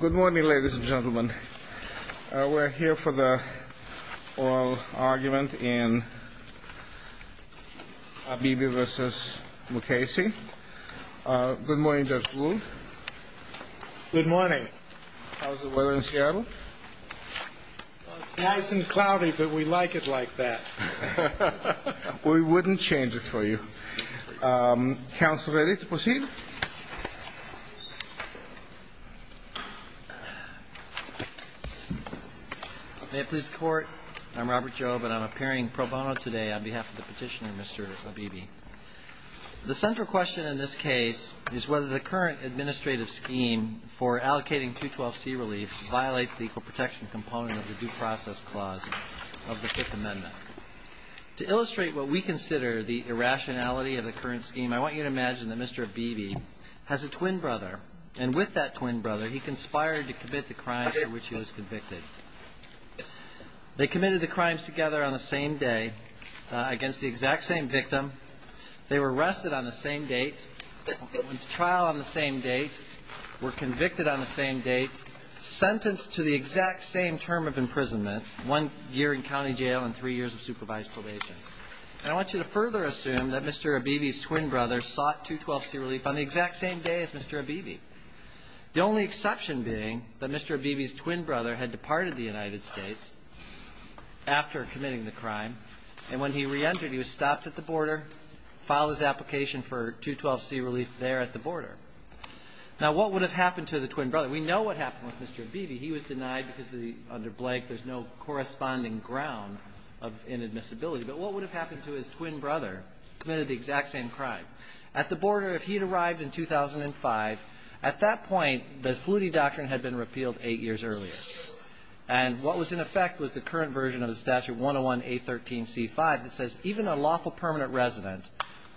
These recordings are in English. Good morning, ladies and gentlemen. We're here for the oral argument in Abebe v. Mukasey. Good morning, Judge Rule. Good morning. How's the weather in Seattle? It's nice and cloudy, but we like it like that. We wouldn't change it for you. Counsel ready to proceed? May it please the Court, I'm Robert Jobe, and I'm appearing pro bono today on behalf of the petitioner, Mr. Abebe. The central question in this case is whether the current administrative scheme for allocating 212C relief violates the equal protection component of the due process clause of the Fifth Amendment. To illustrate what we consider the irrationality of the current scheme, I want you to imagine that Mr. Abebe has a twin brother, and with that twin brother, he conspired to commit the crime for which he was convicted. They committed the crimes together on the same day against the exact same victim. They were arrested on the same date, went to trial on the same date, were convicted on the same date, sentenced to the exact same term of imprisonment, one year in county jail and three years of supervised probation. And I want you to further assume that Mr. Abebe's twin brother sought 212C relief on the exact same day as Mr. Abebe, the only exception being that Mr. Abebe's twin brother had departed the United States after committing the crime, and when he reentered, he was stopped at the border, filed his application for 212C relief there at the border. Now, what would have happened to the twin brother? We know what happened with Mr. Abebe. He was denied because the under blank, there's no corresponding ground of inadmissibility. But what would have happened to his twin brother who committed the exact same crime? At the border, if he had arrived in 2005, at that point, the Flutie doctrine had been repealed eight years earlier. And what was in effect was the current version of the statute 101A13C5 that says even a lawful permanent resident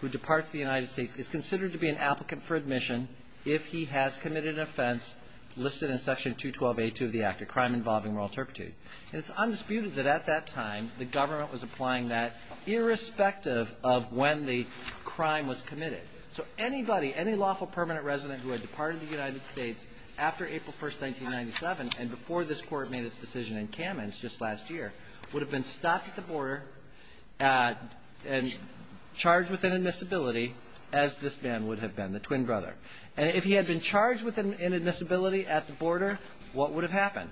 who departs the United States is considered to be an applicant for admission if he has committed an offense listed in Section 212A2 of the Act, a crime involving moral turpitude. And it's undisputed that at that time, the government was applying that irrespective of when the crime was committed. So anybody, any lawful permanent resident who had departed the United States after April 1st, 1997, and before this Court made its decision in Kamens just last year, would have been stopped at the border and charged with inadmissibility as this man would have been, the twin brother. And if he had been charged with inadmissibility at the border, what would have happened?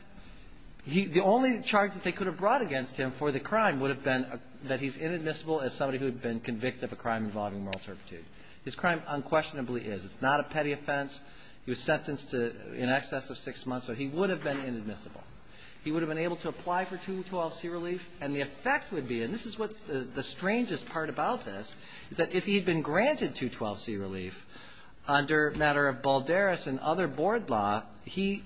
He – the only charge that they could have brought against him for the crime would have been that he's inadmissible as somebody who had been convicted of a crime involving moral turpitude. His crime unquestionably is. It's not a petty offense. He was sentenced to in excess of six months, so he would have been inadmissible. He would have been able to apply for 212C relief, and the effect would be, and this is what the strangest part about this, is that if he had been granted 212C relief under matter of Balderas and other board law, he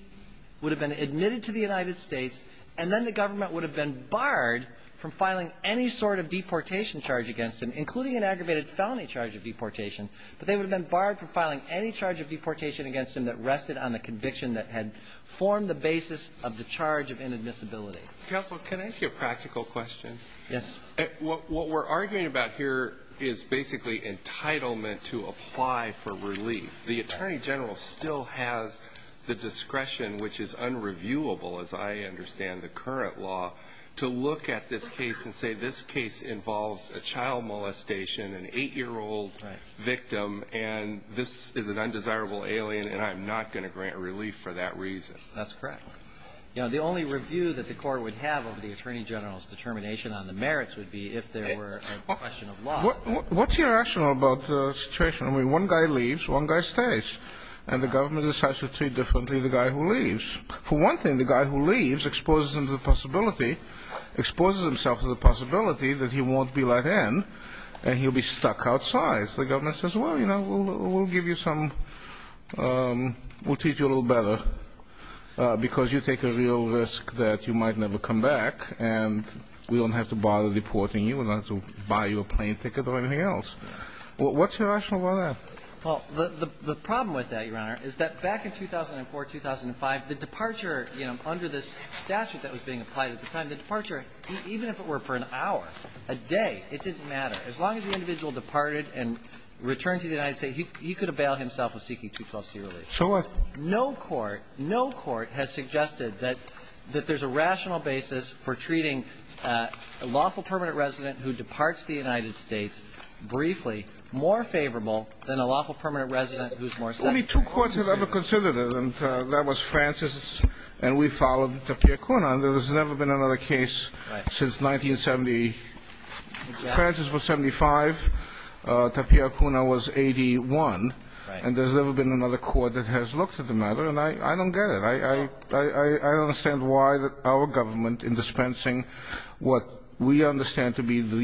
would have been admitted to the United States, and then the government would have been barred from filing any sort of deportation charge against him, including an aggravated felony charge of deportation. But they would have been barred from filing any charge of deportation against him that rested on the conviction that had formed the basis of the charge of inadmissibility. Counsel, can I ask you a practical question? Yes. What we're arguing about here is basically entitlement to apply for relief. The Attorney General still has the discretion, which is unreviewable as I understand the current law, to look at this case and say this case involves a child molestation, an 8-year-old victim, and this is an undesirable alien, and I'm not going to grant relief for that reason. That's correct. The only review that the Court would have of the Attorney General's determination on the merits would be if there were a question of law. What's irrational about the situation? I mean, one guy leaves, one guy stays, and the government decides to treat differently the guy who leaves. For one thing, the guy who leaves exposes him to the possibility, exposes himself to the possibility that he won't be let in and he'll be stuck outside. So the government says, well, you know, we'll give you some – we'll teach you a little better because you take a real risk that you might never come back, and we don't have to bother deporting you. We don't have to buy you a plane ticket or anything else. What's irrational about that? Well, the problem with that, Your Honor, is that back in 2004, 2005, the departure under this statute that was being applied at the time, the departure, even if it were for an hour, a day, it didn't matter. As long as the individual departed and returned to the United States, he could avail himself of seeking 212c relief. So what? No court – no court has suggested that there's a rational basis for treating a lawful permanent resident who departs the United States briefly more favorable than a lawful permanent resident who's more secondary. Only two courts have ever considered it, and that was Francis and we followed Tapia Kuna, and there's never been another case since 1970. Francis was 75, Tapia Kuna was 81, and there's never been another court that has looked at the matter, and I don't get it. I don't understand why our government, in dispensing what we understand to be the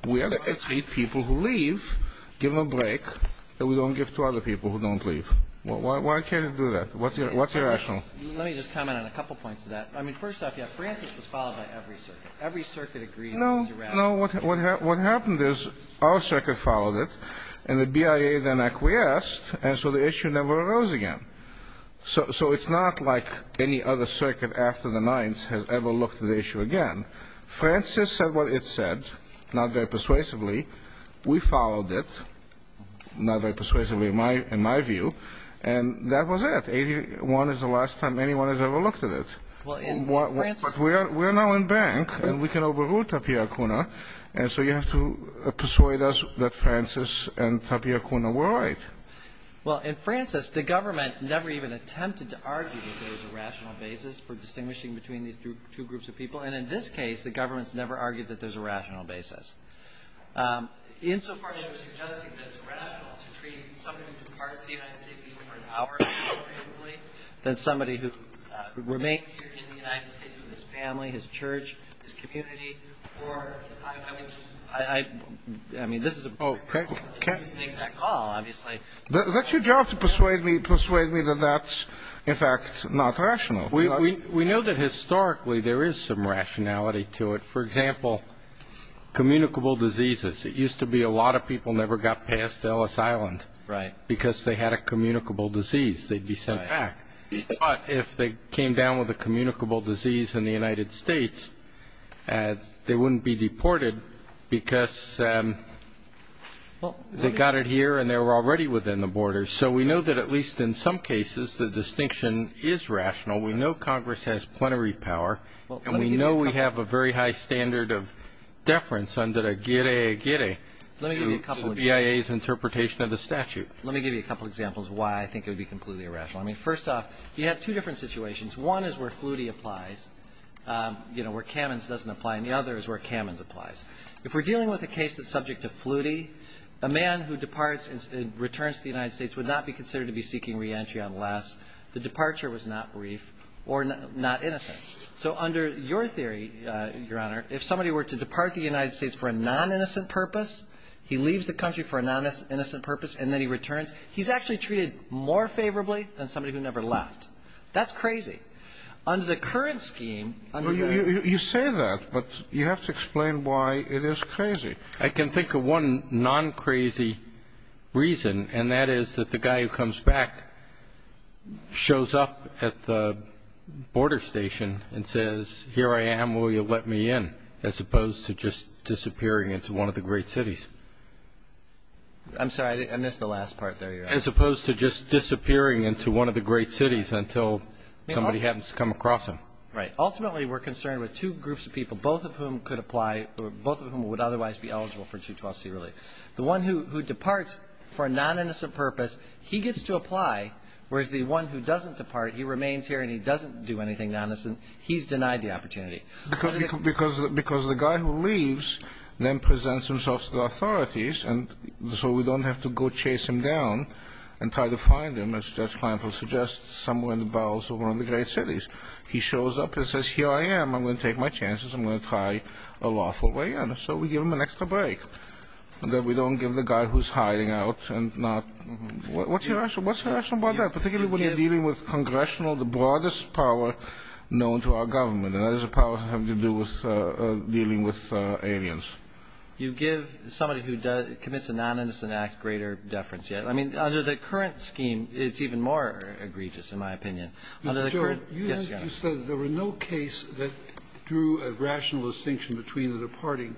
we are going to treat people who leave, give them a break, and we don't give to other people who don't leave. Why can't it do that? What's your rational? Let me just comment on a couple points to that. I mean, first off, yes, Francis was followed by every circuit. Every circuit agreed it was irrational. No. No. What happened is our circuit followed it, and the BIA then acquiesced, and so the issue never arose again. So it's not like any other circuit after the Ninth has ever looked at the issue again. Francis said what it said, not very persuasively. We followed it, not very persuasively in my view, and that was it. Eighty-one is the last time anyone has ever looked at it. But we are now in bank, and we can overrule Tapia Kuna, and so you have to persuade us that Francis and Tapia Kuna were right. Well, in Francis, the government never even attempted to argue that there was a rational basis for distinguishing between these two groups of people. And in this case, the government's never argued that there's a rational basis. Insofar as you're suggesting that it's rational to treat somebody who departs from the United States even for an hour, preferably, than somebody who remains here in the United States with his family, his church, his community, or I would just – I mean, this is a very difficult thing to make that call, obviously. That's your job, to persuade me that that's, in fact, not rational. We know that historically there is some rationality to it. For example, communicable diseases. It used to be a lot of people never got past Ellis Island because they had a communicable disease. They'd be sent back. But if they came down with a communicable disease in the United States, they wouldn't be deported because they got it here and they were already within the borders. So we know that at least in some cases the distinction is rational. We know Congress has plenary power. And we know we have a very high standard of deference under the guillere guillere to the BIA's interpretation of the statute. Let me give you a couple of examples of why I think it would be completely irrational. I mean, first off, you have two different situations. One is where Flutie applies, you know, where Kamens doesn't apply. And the other is where Kamens applies. If we're dealing with a case that's subject to Flutie, a man who departs and returns to the United States would not be considered to be seeking reentry unless the departure was not brief or not innocent. So under your theory, Your Honor, if somebody were to depart the United States for a non-innocent purpose, he leaves the country for a non-innocent purpose, and then he returns, he's actually treated more favorably than somebody who never That's crazy. Under the current scheme, under your ---- You say that, but you have to explain why it is crazy. I can think of one non-crazy reason, and that is that the guy who comes back shows up at the border station and says, here I am, will you let me in, as opposed to just disappearing into one of the great cities. I'm sorry. I missed the last part there, Your Honor. As opposed to just disappearing into one of the great cities until somebody happens to come across him. Right. Ultimately, we're concerned with two groups of people, both of whom could apply or both of whom would otherwise be eligible for 212C relief. The one who departs for a non-innocent purpose, he gets to apply, whereas the one who doesn't depart, he remains here and he doesn't do anything non-innocent. He's denied the opportunity. Because the guy who leaves then presents himself to the authorities, and so we don't have to go chase him down and try to find him, as Judge Kleinfeld suggests, somewhere in the bowels of one of the great cities. He shows up and says, here I am. I'm going to take my chances. I'm going to try a lawful way in. So we give him an extra break. That we don't give the guy who's hiding out and not. What's your question? What's your question about that? Particularly when you're dealing with congressional, the broadest power known to our government. And that is a power having to do with dealing with aliens. You give somebody who commits a non-innocent act greater deference. I mean, under the current scheme, it's even more egregious, in my opinion. Under the current ---- Yes, Your Honor. You said there were no case that drew a rational distinction between the departing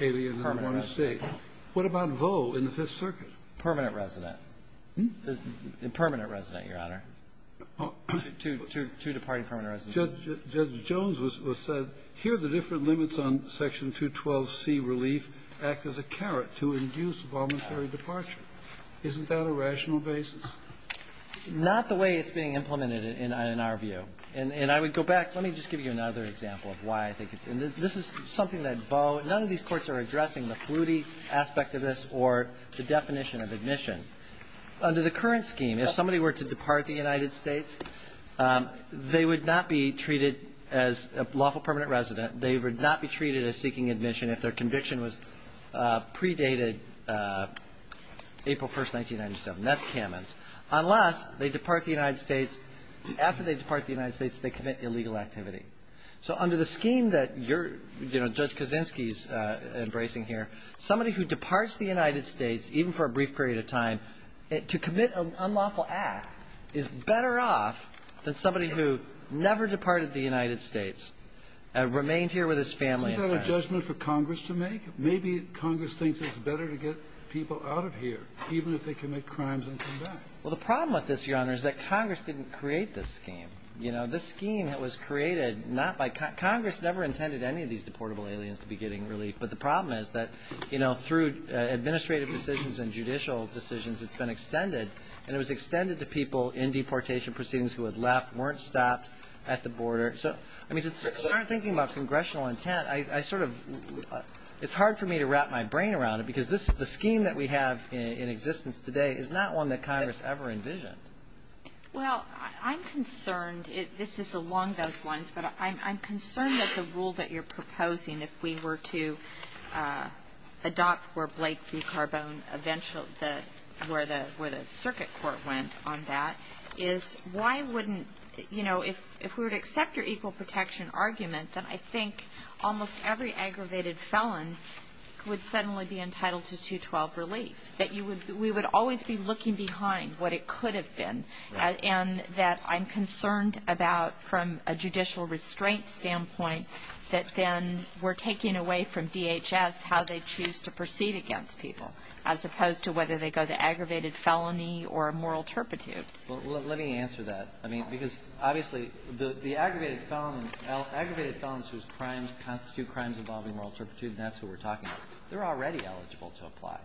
alien and the one who stayed. Permanent resident. What about Vaux in the Fifth Circuit? Permanent resident. Hmm? Permanent resident, Your Honor. To departing permanent resident. Judge Jones said, here the different limits on Section 212C relief act as a carrot to induce a voluntary departure. Isn't that a rational basis? Not the way it's being implemented in our view. And I would go back. Let me just give you another example of why I think it's ---- and this is something that Vaux ---- none of these courts are addressing the fluity aspect of this or the definition of admission. Under the current scheme, if somebody were to depart the United States, they would not be treated as a lawful permanent resident. They would not be treated as seeking admission if their conviction was predated April 1st, 1997. That's Kamens. Unless they depart the United States. After they depart the United States, they commit illegal activity. So under the scheme that you're, you know, Judge Kaczynski's embracing here, somebody who departs the United States, even for a brief period of time, to commit an unlawful act is better off than somebody who never departed the United States and remained here with his family. Isn't that a judgment for Congress to make? Maybe Congress thinks it's better to get people out of here, even if they commit crimes and come back. Well, the problem with this, Your Honor, is that Congress didn't create this scheme. You know, this scheme that was created not by ---- Congress never intended any of these deportable aliens to be getting relief. But the problem is that, you know, through administrative decisions and judicial decisions, it's been extended, and it was extended to people in deportation proceedings who had left, weren't stopped at the border. So, I mean, to start thinking about congressional intent, I sort of ---- it's hard for me to wrap my brain around it, because this ---- the scheme that we have in existence today is not one that Congress ever envisioned. Well, I'm concerned. This is along those lines. But I'm concerned that the rule that you're proposing, if we were to adopt where Blake v. Carbone eventually ---- where the circuit court went on that, is why wouldn't ---- you know, if we were to accept your equal protection argument, then I think almost every aggravated felon would suddenly be entitled to 212 relief, that you would be ---- we would always be looking behind what it could have been, and that I'm concerned about, from a judicial restraint standpoint, that then we're taking away from DHS how they choose to proceed against people, as opposed to whether they go to aggravated felony or moral turpitude. Well, let me answer that. I mean, because, obviously, the aggravated felon and ---- aggravated felons whose crimes constitute crimes involving moral turpitude, and that's who we're talking about, they're already eligible to apply.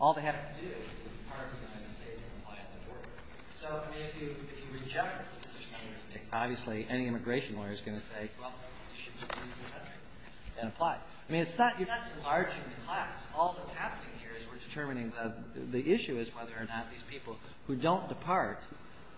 All they have to do is depart from the United States and apply at the border. So, I mean, if you ---- if you reject it, there's not going to be anything. Obviously, any immigration lawyer is going to say, well, you should just leave the country and apply. I mean, it's not ---- you're not enlarging the class. All that's happening here is we're determining that the issue is whether or not these people who don't depart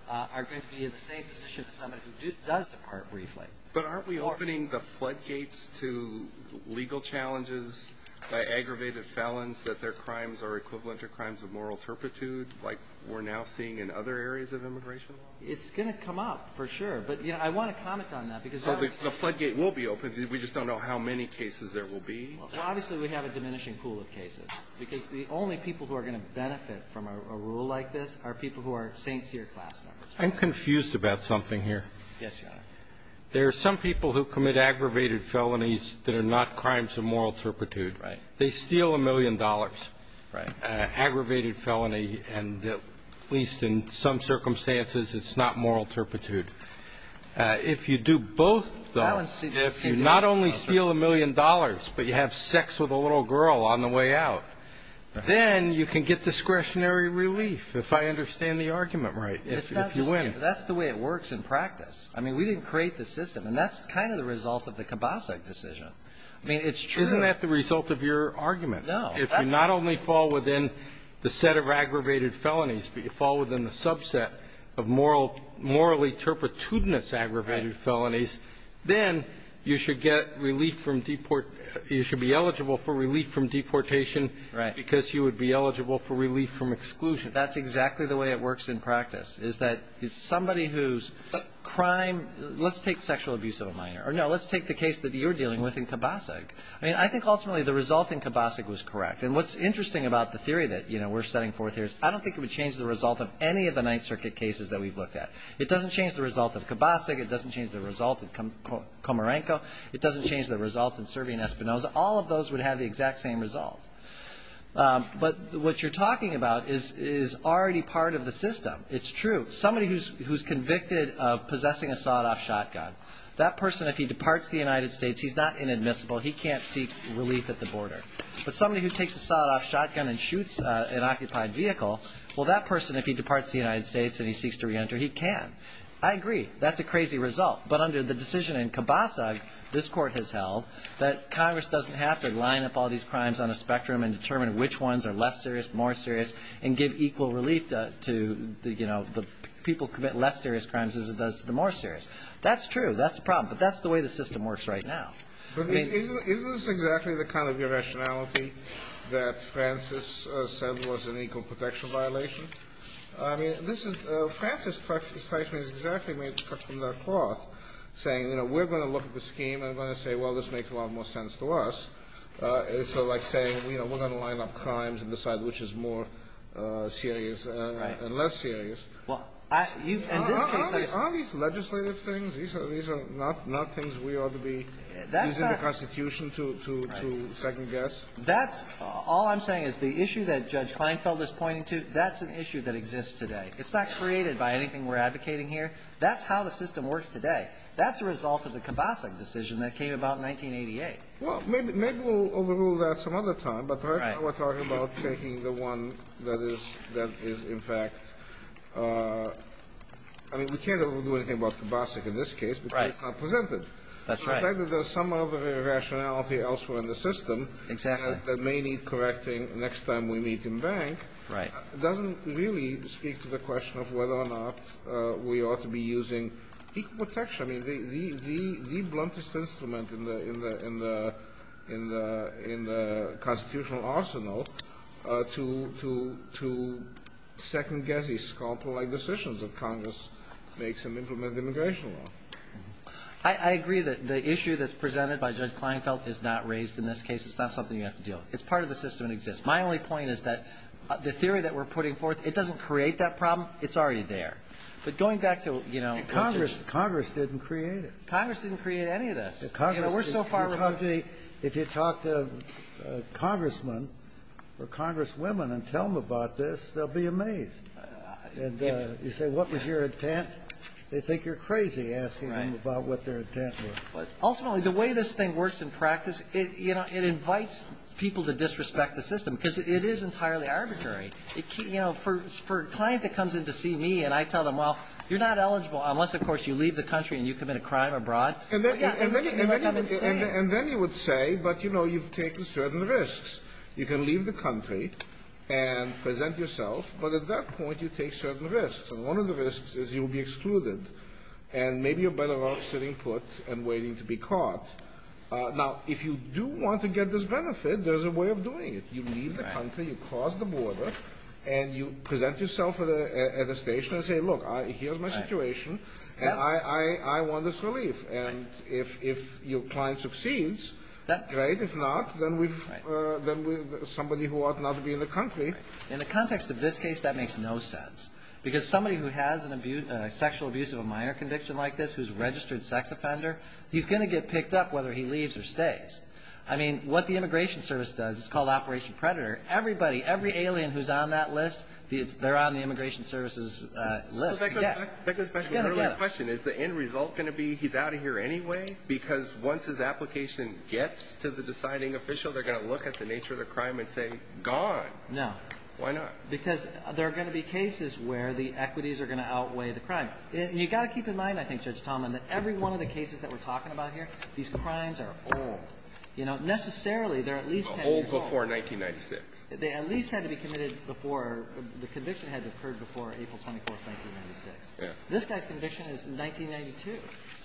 are going to be in the same position as somebody who does depart briefly. But aren't we opening the floodgates to legal challenges by aggravated felons, that their crimes are equivalent to crimes of moral turpitude, like we're now seeing in other areas of immigration? It's going to come up, for sure. But, you know, I want to comment on that, because ---- So the floodgate will be open. We just don't know how many cases there will be. Well, obviously, we have a diminishing pool of cases, because the only people who are going to benefit from a rule like this are people who are Saint Seer class members. I'm confused about something here. Yes, Your Honor. There are some people who commit aggravated felonies that are not crimes of moral turpitude. Right. They steal a million dollars. Right. Aggravated felony, and at least in some circumstances, it's not moral turpitude. If you do both, though, if you not only steal a million dollars, but you have sex with a little girl on the way out, then you can get discretionary relief, if I understand the argument right, if you win. That's the way it works in practice. I mean, we didn't create the system. And that's kind of the result of the Kibasek decision. I mean, it's true. Isn't that the result of your argument? No. If you not only fall within the set of aggravated felonies, but you fall within the subset of morally turpitudinous aggravated felonies, then you should get relief from deportation. You should be eligible for relief from deportation. Right. Because you would be eligible for relief from exclusion. That's exactly the way it works in practice, is that somebody whose crime, let's take sexual abuse of a minor. Or, no, let's take the case that you're dealing with in Kibasek. I mean, I think ultimately the result in Kibasek was correct. And what's interesting about the theory that, you know, we're setting forth here is I don't think it would change the result of any of the Ninth Circuit cases that we've looked at. It doesn't change the result of Kibasek. It doesn't change the result of Komarenko. It doesn't change the result of Serbian Espinosa. All of those would have the exact same result. But what you're talking about is already part of the system. It's true. Somebody who's convicted of possessing a sawed-off shotgun, that person, if he departs the United States, he's not inadmissible. He can't seek relief at the border. But somebody who takes a sawed-off shotgun and shoots an occupied vehicle, well, that person, if he departs the United States and he seeks to reenter, he can. I agree. That's a crazy result. But under the decision in Kibasek, this Court has held that Congress doesn't have to line up all these crimes on a spectrum and determine which ones are less serious, more serious, and give equal relief to, you know, the people who commit less serious crimes as it does the more serious. That's true. That's a problem. But that's the way the system works right now. Isn't this exactly the kind of irrationality that Francis said was an equal protection violation? I mean, this is the Francis' statement is exactly made from that cloth, saying, you know, we're going to look at the scheme and we're going to say, well, this makes a lot more sense to us. It's sort of like saying, you know, we're going to line up crimes and decide which is more serious and less serious. Right. Well, I you've in this case I Aren't these legislative things? These are not things we ought to be using the Constitution to second-guess? That's all I'm saying is the issue that Judge Kleinfeld is pointing to, that's an issue that exists today. It's not created by anything we're advocating here. That's how the system works today. That's a result of the Kobasic decision that came about in 1988. Well, maybe we'll overrule that some other time. But right now we're talking about taking the one that is in fact I mean, we can't overdo anything about Kobasic in this case because it's not presented. That's right. So the fact that there's some other irrationality elsewhere in the system that may Correcting next time we meet in bank. Right. It doesn't really speak to the question of whether or not we ought to be using equal protection. I mean, the bluntest instrument in the Constitutional arsenal to second-guess these scalpel-like decisions that Congress makes and implement immigration law. I agree that the issue that's presented by Judge Kleinfeld is not raised in this It's not something you have to deal with. It's part of the system that exists. My only point is that the theory that we're putting forth, it doesn't create that problem. It's already there. But going back to, you know, Congress didn't create it. Congress didn't create any of this. We're so far removed. If you talk to a congressman or congresswomen and tell them about this, they'll be amazed. And you say, what was your intent? They think you're crazy asking them about what their intent was. Ultimately, the way this thing works in practice, you know, it invites people to disrespect the system, because it is entirely arbitrary. You know, for a client that comes in to see me and I tell them, well, you're not eligible unless, of course, you leave the country and you commit a crime abroad. And then you would say, but, you know, you've taken certain risks. You can leave the country and present yourself, but at that point you take certain risks. And one of the risks is you will be excluded, and maybe you're better off sitting at the airport and waiting to be caught. Now, if you do want to get this benefit, there's a way of doing it. You leave the country, you cross the border, and you present yourself at a station and say, look, here's my situation, and I want this relief. And if your client succeeds, great. If not, then somebody who ought not to be in the country. In the context of this case, that makes no sense. Because somebody who has a sexual abuse of a minor conviction like this, who's a registered sex offender, he's going to get picked up whether he leaves or stays. I mean, what the Immigration Service does, it's called Operation Predator, everybody, every alien who's on that list, they're on the Immigration Service's list. Yeah. So back to the question, is the end result going to be he's out of here anyway? Because once his application gets to the deciding official, they're going to look at the nature of the crime and say, gone. No. Why not? Because there are going to be cases where the equities are going to outweigh the crime. And you've got to keep in mind, I think, Judge Tallman, that every one of the cases that we're talking about here, these crimes are old. Necessarily, they're at least 10 years old. Old before 1996. They at least had to be committed before the conviction had occurred before April 24, 1996. Yeah. This guy's conviction is 1992.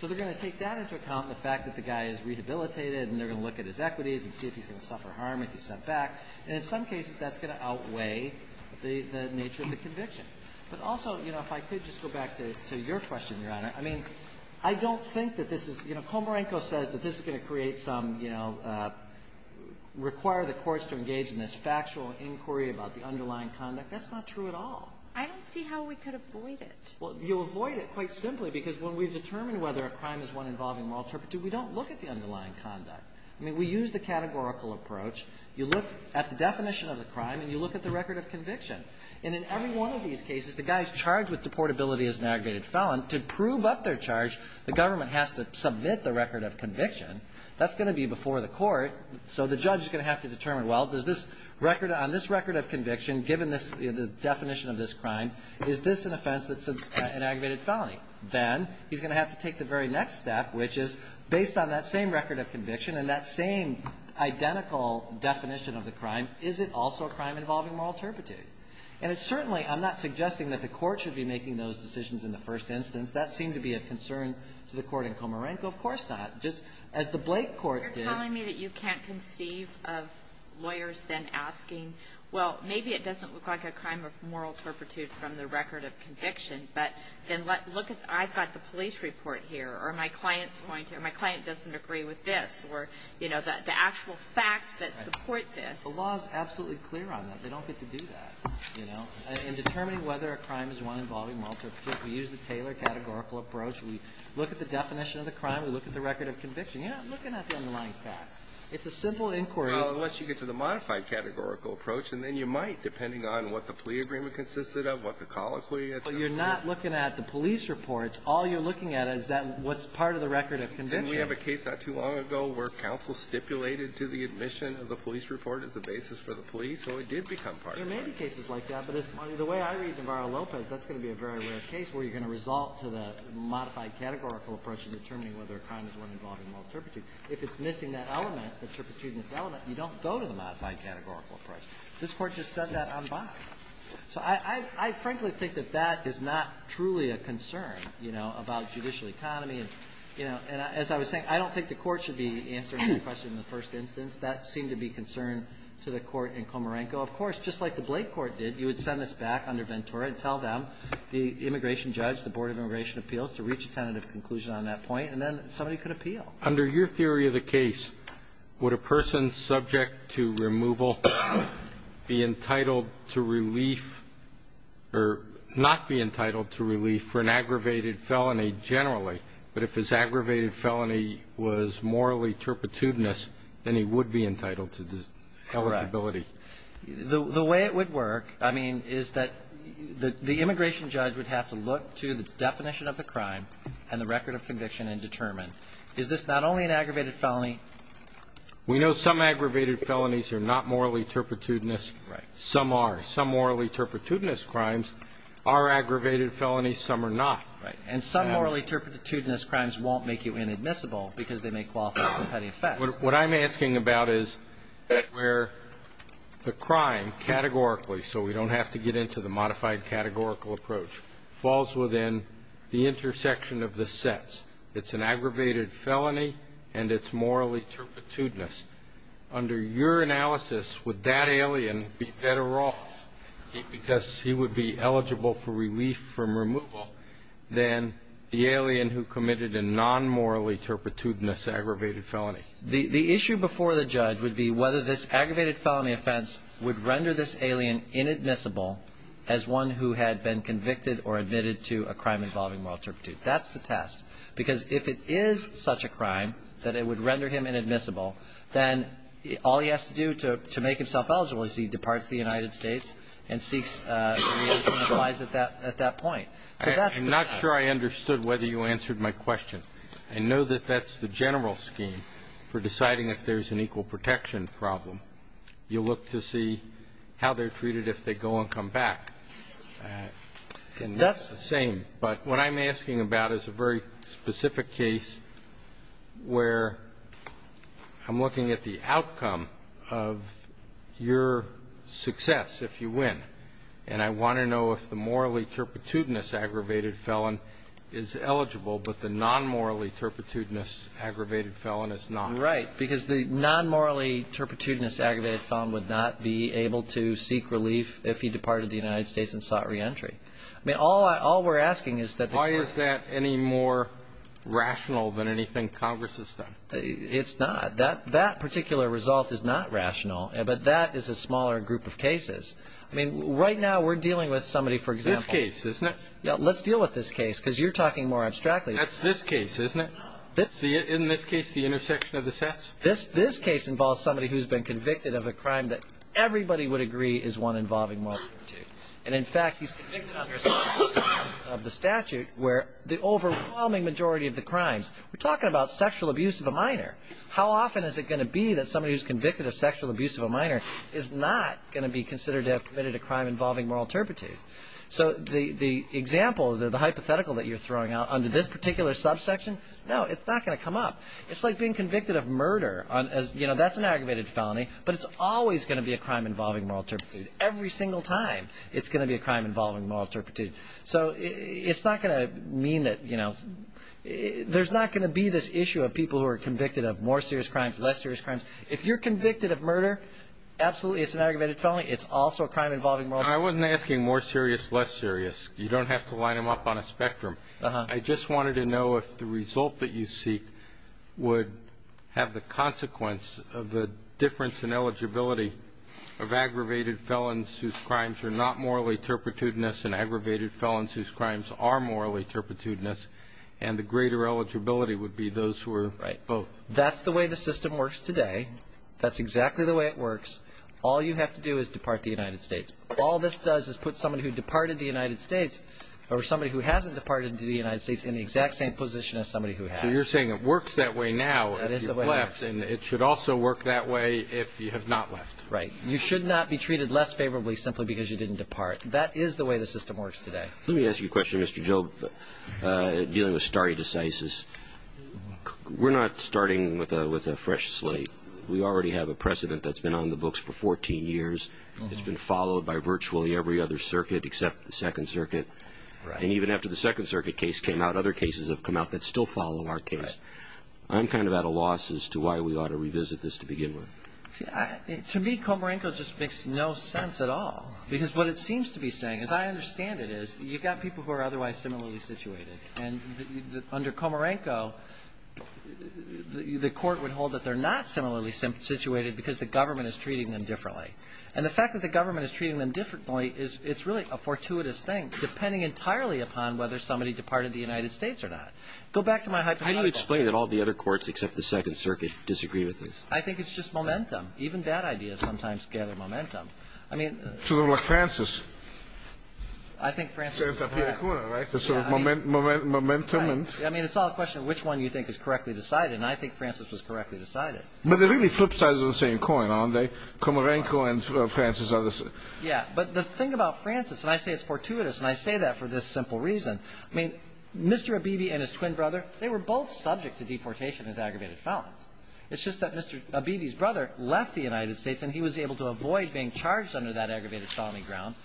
So they're going to take that into account, the fact that the guy is rehabilitated, and they're going to look at his equities and see if he's going to suffer harm if he's sent back. And in some cases, that's going to outweigh the nature of the conviction. But also, you know, if I could just go back to your question, Your Honor. I mean, I don't think that this is, you know, Komarenko says that this is going to create some, you know, require the courts to engage in this factual inquiry about the underlying conduct. That's not true at all. I don't see how we could avoid it. Well, you'll avoid it quite simply because when we've determined whether a crime is one involving moral turpitude, we don't look at the underlying conduct. I mean, we use the categorical approach. You look at the definition of the crime, and you look at the record of conviction. And in every one of these cases, the guy is charged with deportability as an aggravated felon. To prove up their charge, the government has to submit the record of conviction. That's going to be before the court. So the judge is going to have to determine, well, does this record of conviction, given the definition of this crime, is this an offense that's an aggravated felony? Then he's going to have to take the very next step, which is based on that same record of conviction and that same identical definition of the crime, is it also a crime involving moral turpitude? And it's certainly – I'm not suggesting that the Court should be making those decisions in the first instance. That seemed to be a concern to the Court in Comarenco. Of course not. Just as the Blake court did. You're telling me that you can't conceive of lawyers then asking, well, maybe it doesn't look like a crime of moral turpitude from the record of conviction, but then look at – I've got the police report here, or my client's going to – or my client doesn't agree with this, or, you know, the actual facts that support this. The law is absolutely clear on that. They don't get to do that, you know. In determining whether a crime is one involving moral turpitude, we use the Taylor categorical approach. We look at the definition of the crime. We look at the record of conviction. You're not looking at the underlying facts. It's a simple inquiry. Well, unless you get to the modified categorical approach, and then you might, depending on what the plea agreement consisted of, what the colloquy is. But you're not looking at the police reports. All you're looking at is that – what's part of the record of conviction. And we have a case not too long ago where counsel stipulated to the admission of the police report as the basis for the plea, so it did become part of that. There may be cases like that, but the way I read Navarro-Lopez, that's going to be a very rare case where you're going to result to the modified categorical approach in determining whether a crime is one involving moral turpitude. If it's missing that element, the turpitudinous element, you don't go to the modified categorical approach. This Court just said that on bond. So I frankly think that that is not truly a concern, you know, about judicial economy. And, you know, as I was saying, I don't think the Court should be answering that question in the first instance. That seemed to be concern to the Court in Comeranco. Of course, just like the Blake Court did, you would send this back under Ventura and tell them, the immigration judge, the Board of Immigration Appeals, to reach a tentative conclusion on that point, and then somebody could appeal. Under your theory of the case, would a person subject to removal be entitled to relief or not be entitled to relief for an aggravated felony generally? But if his aggravated felony was morally turpitudinous, then he would be entitled to the eligibility. Correct. The way it would work, I mean, is that the immigration judge would have to look to the definition of the crime and the record of conviction and determine, is this not only an aggravated felony? We know some aggravated felonies are not morally turpitudinous. Right. Some are. Some morally turpitudinous crimes are aggravated felonies. Some are not. Right. And some morally turpitudinous crimes won't make you inadmissible because they may qualify as a petty offense. What I'm asking about is where the crime categorically, so we don't have to get into the modified categorical approach, falls within the intersection of the sets. It's an aggravated felony, and it's morally turpitudinous. Under your analysis, would that alien be better off because he would be eligible for relief from removal than the alien who committed a non-morally turpitudinous aggravated felony? The issue before the judge would be whether this aggravated felony offense would render this alien inadmissible as one who had been convicted or admitted to a crime involving moral turpitude. That's the test. Because if it is such a crime that it would render him inadmissible, then all he has to do to make himself eligible is he departs the United States and seeks to realize at that point. So that's the test. I'm not sure I understood whether you answered my question. I know that that's the general scheme for deciding if there's an equal protection problem. You look to see how they're treated if they go and come back. That's the same. But what I'm asking about is a very specific case where I'm looking at the outcome of your success, if you win, and I want to know if the morally turpitudinous aggravated felon is eligible, but the non-morally turpitudinous aggravated felon is not. Right. Because the non-morally turpitudinous aggravated felon would not be able to seek relief if he departed the United States and sought reentry. I mean, all we're asking is that the court ---- Why is that any more rational than anything Congress has done? It's not. That particular result is not rational, but that is a smaller group of cases. I mean, right now we're dealing with somebody, for example ---- It's this case, isn't it? Let's deal with this case because you're talking more abstractly. That's this case, isn't it? Isn't this case the intersection of the sets? This case involves somebody who's been convicted of a crime that everybody would agree is one involving moral turpitude. And, in fact, he's convicted under a section of the statute where the overwhelming majority of the crimes ---- We're talking about sexual abuse of a minor. How often is it going to be that somebody who's convicted of sexual abuse of a minor is not going to be considered to have committed a crime involving moral turpitude? So the example, the hypothetical that you're throwing out under this particular subsection, no, it's not going to come up. It's like being convicted of murder. That's an aggravated felony, but it's always going to be a crime involving moral turpitude. Every single time it's going to be a crime involving moral turpitude. So it's not going to mean that ---- There's not going to be this issue of people who are convicted of more serious crimes, less serious crimes. If you're convicted of murder, absolutely it's an aggravated felony. It's also a crime involving moral turpitude. I wasn't asking more serious, less serious. You don't have to line them up on a spectrum. I just wanted to know if the result that you seek would have the consequence of the difference in eligibility of aggravated felons whose crimes are not morally turpitudinous and aggravated felons whose crimes are morally turpitudinous and the greater eligibility would be those who are both. Right. That's the way the system works today. That's exactly the way it works. All you have to do is depart the United States. All this does is put somebody who departed the United States or somebody who hasn't departed to the United States in the exact same position as somebody who has. So you're saying it works that way now if you've left. That is the way it works. And it should also work that way if you have not left. Right. You should not be treated less favorably simply because you didn't depart. That is the way the system works today. Let me ask you a question, Mr. Job, dealing with stare decisis. We're not starting with a fresh slate. We already have a precedent that's been on the books for 14 years. It's been followed by virtually every other circuit except the Second Circuit. And even after the Second Circuit case came out, other cases have come out that still follow our case. I'm kind of at a loss as to why we ought to revisit this to begin with. To me, Komarenko just makes no sense at all because what it seems to be saying, as I understand it, is you've got people who are otherwise similarly situated, and under Komarenko, the Court would hold that they're not similarly situated because the government is treating them differently. And the fact that the government is treating them differently is it's really a fortuitous thing, depending entirely upon whether somebody departed the United States or not. Go back to my hypothetical. How do you explain that all the other courts except the Second Circuit disagree with this? I think it's just momentum. Even bad ideas sometimes gather momentum. I mean the ---- It's sort of like Francis. I think Francis was ---- It's sort of momentum and ---- I mean, it's all a question of which one you think is correctly decided. And I think Francis was correctly decided. But they really flip sides of the same coin, aren't they? Komarenko and Francis are the same. Yeah. But the thing about Francis, and I say it's fortuitous, and I say that for this simple reason, I mean, Mr. Abebe and his twin brother, they were both subject to deportation as aggravated felons. It's just that Mr. Abebe's brother left the United States, and he was able to avoid being charged under that aggravated felony ground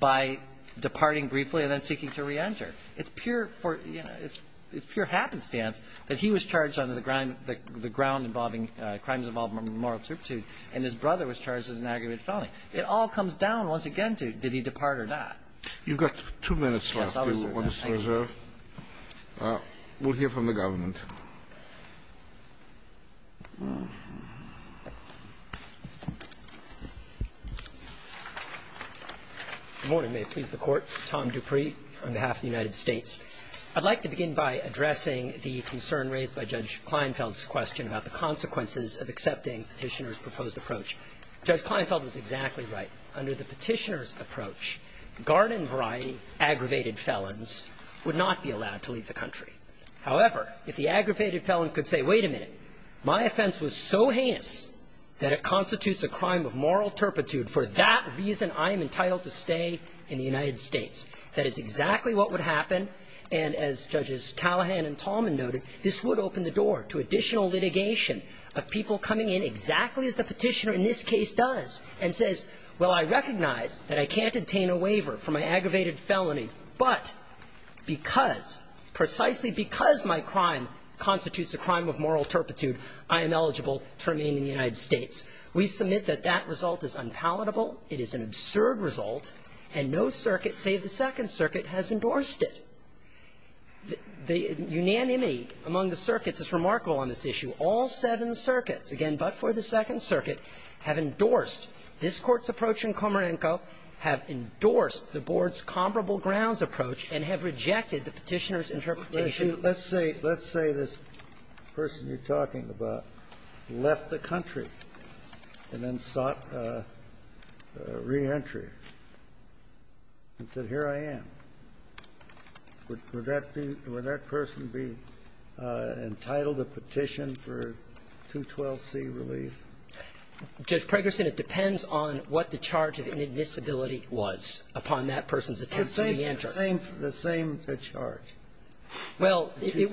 by departing briefly and then seeking to reenter. It's pure for, you know, it's pure happenstance that he was charged under the ground involving, crimes involving moral turpitude, and his brother was charged as an aggravated felony. It all comes down, once again, to did he depart or not. You've got two minutes left. Yes, I'll reserve. We'll hear from the government. Good morning. May it please the Court. Tom Dupree on behalf of the United States. I'd like to begin by addressing the concern raised by Judge Kleinfeld's question about the consequences of accepting Petitioner's proposed approach. Judge Kleinfeld was exactly right. Under the Petitioner's approach, garden-variety aggravated felons would not be allowed to leave the country. However, if the aggravated felon could say, wait a minute, my offense was so heinous that it constitutes a crime of moral turpitude. For that reason, I am entitled to stay in the United States. That is exactly what would happen, and as Judges Callahan and Tallman noted, this would open the door to additional litigation of people coming in exactly as the Petitioner in this case does, and says, well, I recognize that I can't obtain a waiver for my constitutes a crime of moral turpitude. I am eligible to remain in the United States. We submit that that result is unpalatable. It is an absurd result, and no circuit save the Second Circuit has endorsed it. The unanimity among the circuits is remarkable on this issue. All seven circuits, again, but for the Second Circuit, have endorsed this Court's approach in Komarenko, have endorsed the Board's comparable grounds approach, and have rejected the Petitioner's interpretation. Let's say this person you're talking about left the country and then sought reentry and said, here I am. Would that person be entitled to petition for 212C relief? Judge Pregerson, it depends on what the charge of inadmissibility was upon that person's attempt to reenter. The same charge. Well, it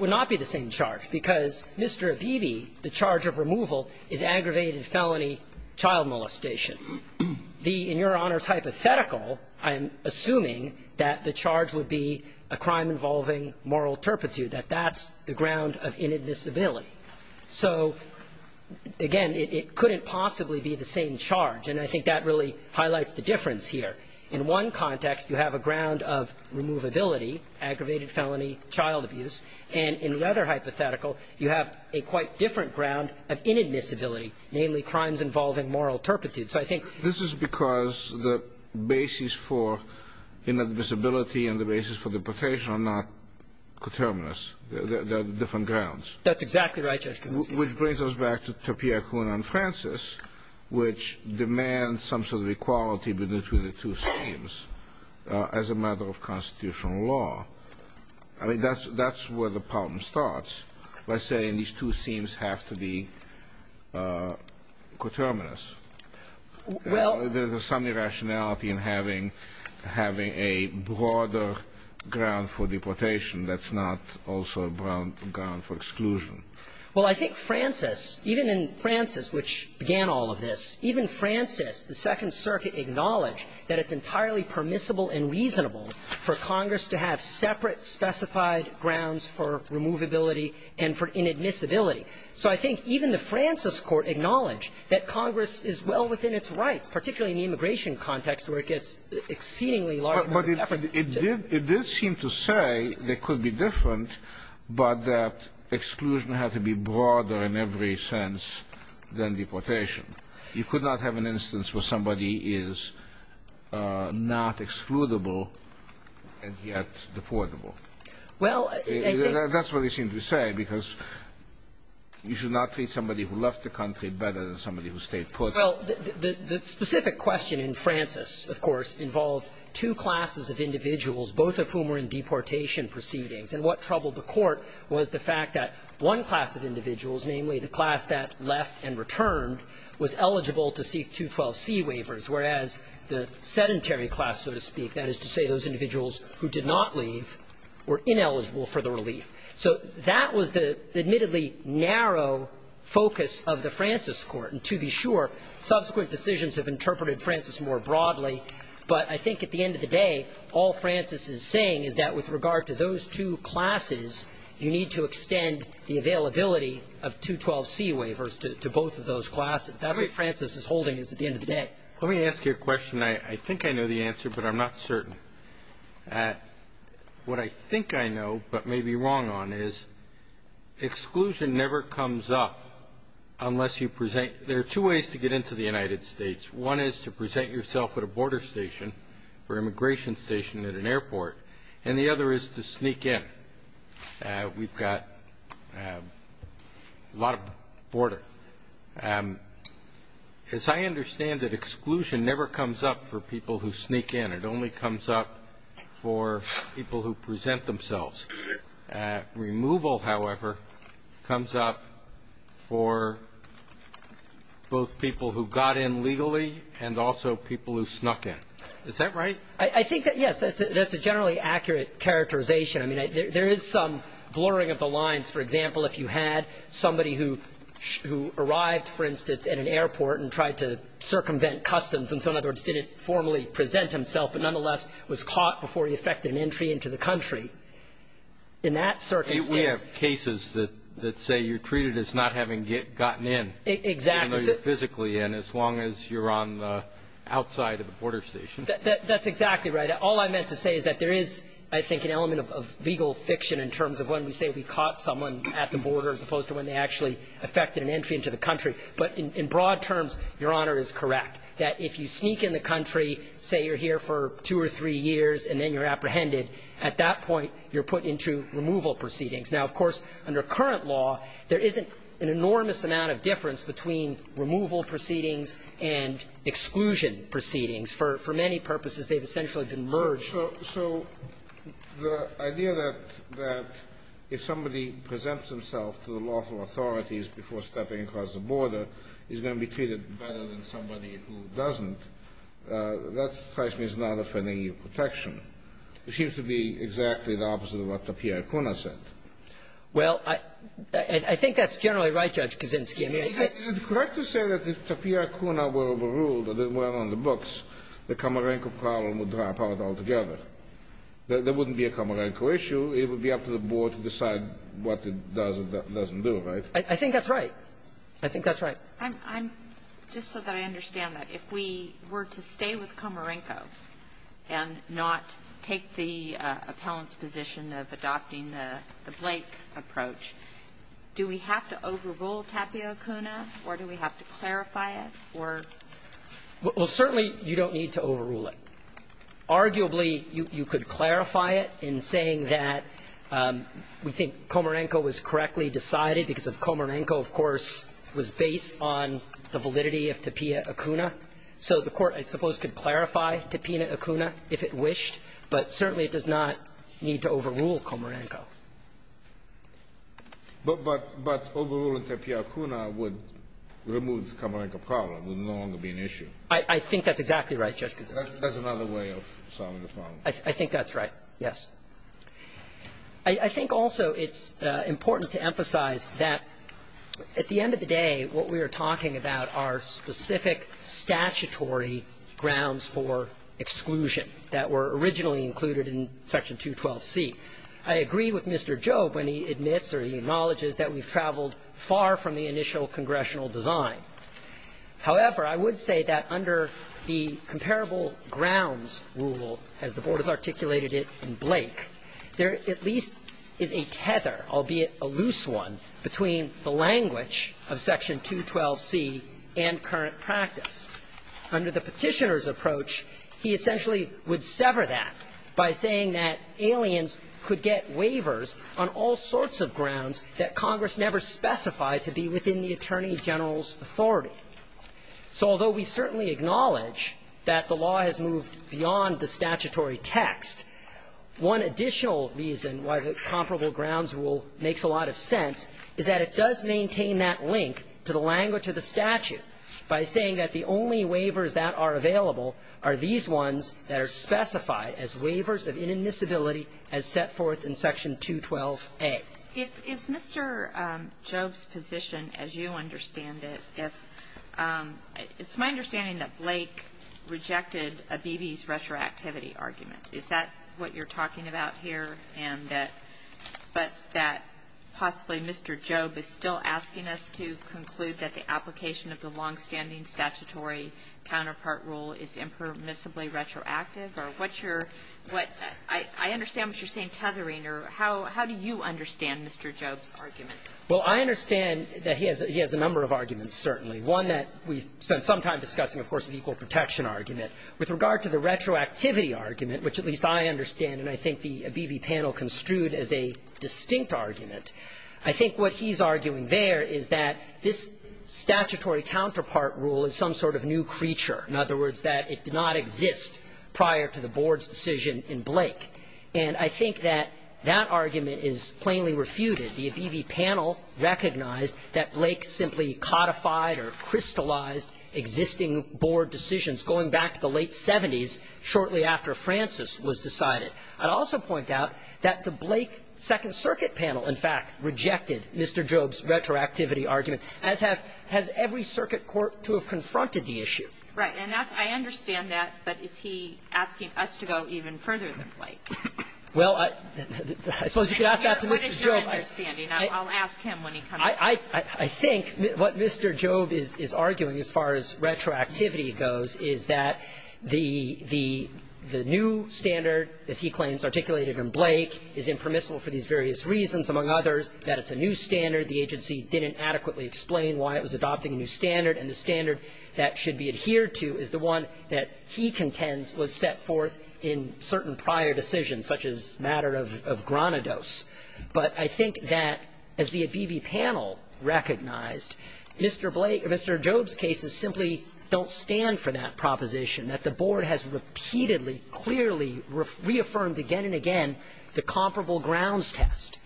would not be the same charge, because Mr. Abebe, the charge of removal, is aggravated felony child molestation. The, in Your Honor's hypothetical, I'm assuming that the charge would be a crime involving moral turpitude, that that's the ground of inadmissibility. So, again, it couldn't possibly be the same charge, and I think that really highlights the difference here. In one context, you have a ground of removability, aggravated felony child abuse, and in the other hypothetical, you have a quite different ground of inadmissibility, namely crimes involving moral turpitude. So I think this is because the basis for inadmissibility and the basis for deportation are not coterminous. They're different grounds. That's exactly right, Judge Kuznicki. Which brings us back to Tapia, Kuna, and Francis, which demands some sort of equality between the two schemes as a matter of constitutional law. I mean, that's where the problem starts, by saying these two schemes have to be coterminous. Well, there's some irrationality in having a broader ground for deportation that's not also a ground for exclusion. Well, I think Francis, even in Francis, which began all of this, even Francis, the Second Circuit acknowledged that it's entirely permissible and reasonable for Congress to have separate specified grounds for removability and for inadmissibility. So I think even the Francis Court acknowledged that Congress is well within its rights, particularly in the immigration context where it gets exceedingly large. But it did seem to say they could be different, but that exclusion had to be broader in every sense than deportation. You could not have an instance where somebody is not excludable and yet deportable. Well, I think that's what it seemed to say, because you should not treat somebody who left the country better than somebody who stayed put. Well, the specific question in Francis, of course, involved two classes of individuals, both of whom were in deportation proceedings. And what troubled the Court was the fact that one class of individuals, namely, the class that left and returned, was eligible to seek 212C waivers, whereas the sedentary class, so to speak, that is to say those individuals who did not leave, were ineligible for the relief. So that was the admittedly narrow focus of the Francis Court. And to be sure, subsequent decisions have interpreted Francis more broadly. But I think at the end of the day, all Francis is saying is that with regard to those two classes, you need to extend the availability of 212C waivers to both of those classes. That's what Francis is holding is at the end of the day. Let me ask you a question. I think I know the answer, but I'm not certain. What I think I know, but may be wrong on, is exclusion never comes up unless you present – there are two ways to get into the United States. One is to present yourself at a border station or immigration station at an airport. And the other is to sneak in. We've got a lot of border. As I understand it, exclusion never comes up for people who sneak in. It only comes up for people who present themselves. Removal, however, comes up for both people who got in legally and also people who snuck in. Is that right? I think that, yes, that's a generally accurate characterization. I mean, there is some blurring of the lines. For example, if you had somebody who arrived, for instance, at an airport and tried to circumvent customs and so, in other words, didn't formally present himself, but nonetheless was caught before he effected an entry into the country, in that circumstance – We have cases that say you're treated as not having gotten in. Exactly. Even though you're physically in, as long as you're on the outside of the border station. That's exactly right. All I meant to say is that there is, I think, an element of legal fiction in terms of when we say we caught someone at the border as opposed to when they actually effected an entry into the country. But in broad terms, Your Honor is correct, that if you sneak in the country, say you're here for two or three years and then you're apprehended, at that point you're put into removal proceedings. Now, of course, under current law, there isn't an enormous amount of difference between removal proceedings and exclusion proceedings. For many purposes, they've essentially been merged. So the idea that if somebody presents himself to the lawful authorities before stepping across the border is going to be treated better than somebody who doesn't, that's not a threatening of protection. It seems to be exactly the opposite of what the PRC said. Well, I think that's generally right, Judge Kaczynski. Is it correct to say that if Tapio Kuna were overruled, or they weren't on the books, the Comerenco problem would drop out altogether? There wouldn't be a Comerenco issue. It would be up to the board to decide what it does or doesn't do, right? I think that's right. I think that's right. I'm just so that I understand that. If we were to stay with Comerenco and not take the appellant's position of adopting the blank approach, do we have to overrule Tapio Kuna, or do we have to clarify it, or? Well, certainly, you don't need to overrule it. Arguably, you could clarify it in saying that we think Comerenco was correctly decided because Comerenco, of course, was based on the validity of Tapio Kuna. So the Court, I suppose, could clarify Tapio Kuna if it wished, but certainly it does not need to overrule Comerenco. But overruling Tapio Kuna would remove the Comerenco problem. It would no longer be an issue. I think that's exactly right, Judge Kuznicki. That's another way of solving the problem. I think that's right, yes. I think also it's important to emphasize that at the end of the day, what we are talking about are specific statutory grounds for exclusion that were originally included in Section 212C. I agree with Mr. Job when he admits or he acknowledges that we've traveled far from the initial congressional design. However, I would say that under the comparable grounds rule, as the Board has articulated it in Blake, there at least is a tether, albeit a loose one, between the language of Section 212C and current practice. Under the Petitioner's approach, he essentially would sever that by saying that aliens could get waivers on all sorts of grounds that Congress never specified to be within the Attorney General's authority. So although we certainly acknowledge that the law has moved beyond the statutory text, one additional reason why the comparable grounds rule makes a lot of sense is that it does maintain that link to the language of the statute by saying that the only waivers that are available are these ones that are specified as waivers of inadmissibility as set forth in Section 212A. It is Mr. Job's position, as you understand it, if my understanding that Blake rejected Abebe's retroactivity argument. Is that what you're talking about here, and that, but that possibly Mr. Job is still asking us to conclude that the application of the longstanding statutory counterpart rule is impermissibly retroactive, or what's your, what, I understand what you're saying, tethering, or how do you understand Mr. Job's argument? Well, I understand that he has a number of arguments, certainly. One that we've spent some time discussing, of course, is the equal protection argument. With regard to the retroactivity argument, which at least I understand, and I think the Abebe panel construed as a distinct argument, I think what he's arguing there is that this statutory counterpart rule is some sort of new creature. In other words, that it did not exist prior to the Board's decision in Blake. And I think that that argument is plainly refuted. The Abebe panel recognized that Blake simply codified or crystallized existing Board decisions going back to the late 70s, shortly after Francis was decided. I'd also point out that the Blake Second Circuit panel, in fact, rejected Mr. Job's retroactivity argument, as have, has every circuit court to have confronted the issue. Right. And that's, I understand that, but is he asking us to go even further than Blake? Well, I suppose you could ask that to Mr. Job. What is your understanding? I'll ask him when he comes back. I think what Mr. Job is arguing, as far as retroactivity goes, is that the new standard, as he claims articulated in Blake, is impermissible for these various reasons, among others, that it's a new standard. The agency didn't adequately explain why it was adopting a new standard. And the standard that should be adhered to is the one that he contends was set forth in certain prior decisions, such as the matter of Granados. But I think that, as the Abebe panel recognized, Mr. Blake or Mr. Job's cases simply don't stand for that proposition, that the Board has repeatedly, clearly reaffirmed again and again the comparable grounds test.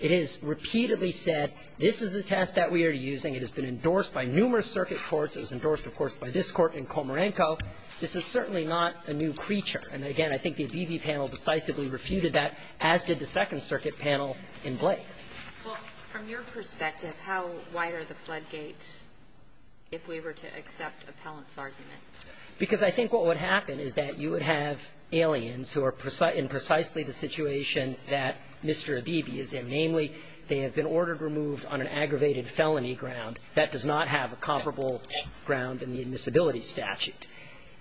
It has repeatedly said, this is the test that we are using. It has been endorsed by numerous circuit courts. It was endorsed, of course, by this Court and Komarenko. This is certainly not a new creature. And, again, I think the Abebe panel decisively refuted that, as did the Second Circuit panel in Blake. Well, from your perspective, how wide are the floodgates if we were to accept appellant's argument? Because I think what would happen is that you would have aliens who are in precisely the situation that Mr. Abebe is in, namely, they have been ordered removed on an aggravated felony ground that does not have a comparable ground in the admissibility statute.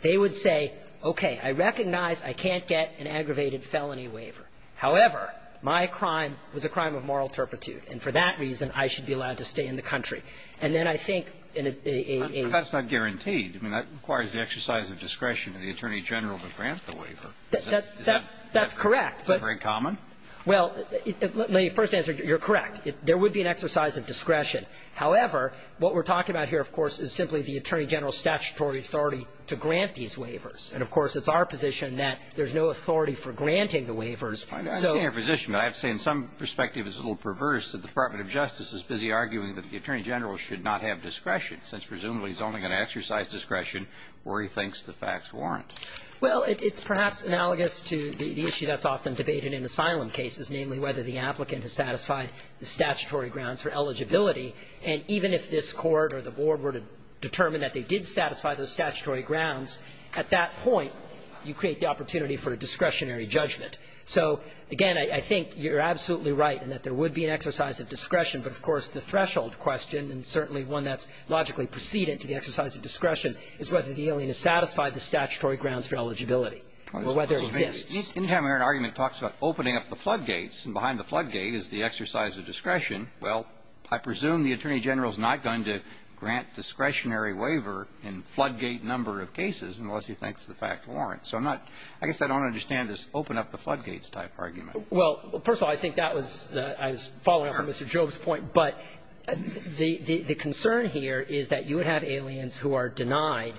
They would say, okay, I recognize I can't get an aggravated felony waiver. However, my crime was a crime of moral turpitude, and for that reason I should be allowed to stay in the country. And then I think in a AAA ---- But that's not guaranteed. I mean, that requires the exercise of discretion of the Attorney General to grant the waiver. Is that ---- That's correct. Is that very common? Well, let me first answer. You're correct. There would be an exercise of discretion. However, what we're talking about here, of course, is simply the Attorney General's statutory authority to grant these waivers. And, of course, it's our position that there's no authority for granting the waivers. So ---- I understand your position, but I have to say in some perspective it's a little perverse that the Department of Justice is busy arguing that the Attorney General should not have discretion, since presumably he's only going to exercise discretion where he thinks the facts warrant. Well, it's perhaps analogous to the issue that's often debated in asylum cases, namely whether the applicant has satisfied the statutory grounds for eligibility. And even if this Court or the Board were to determine that they did satisfy those statutory grounds, at that point, you create the opportunity for a discretionary judgment. So, again, I think you're absolutely right in that there would be an exercise of discretion. But, of course, the threshold question, and certainly one that's logically precedent to the exercise of discretion, is whether the alien has satisfied the statutory grounds for eligibility or whether it exists. Any time where an argument talks about opening up the floodgates and behind the floodgate is the exercise of discretion, well, I presume the Attorney General's not going to grant discretionary waiver in floodgate number of cases unless he thinks the facts warrant. So I'm not – I guess I don't understand this open up the floodgates type argument. Well, first of all, I think that was the – I was following up on Mr. Jobe's point. But the concern here is that you would have aliens who are denied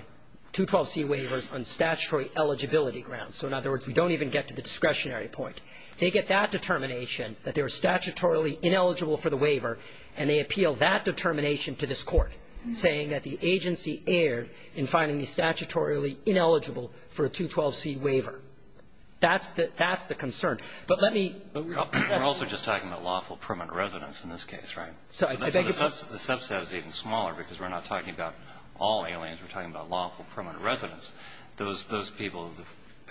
212c waivers on statutory eligibility grounds. So, in other words, we don't even get to the discretionary point. They get that determination, that they were statutorily ineligible for the waiver, and they appeal that determination to this Court, saying that the agency erred in finding the statutorily ineligible for a 212c waiver. That's the – that's the concern. But let me – But we're also just talking about lawful permanent residence in this case, right? So the subset is even smaller because we're not talking about all aliens. We're talking about lawful permanent residence, those people,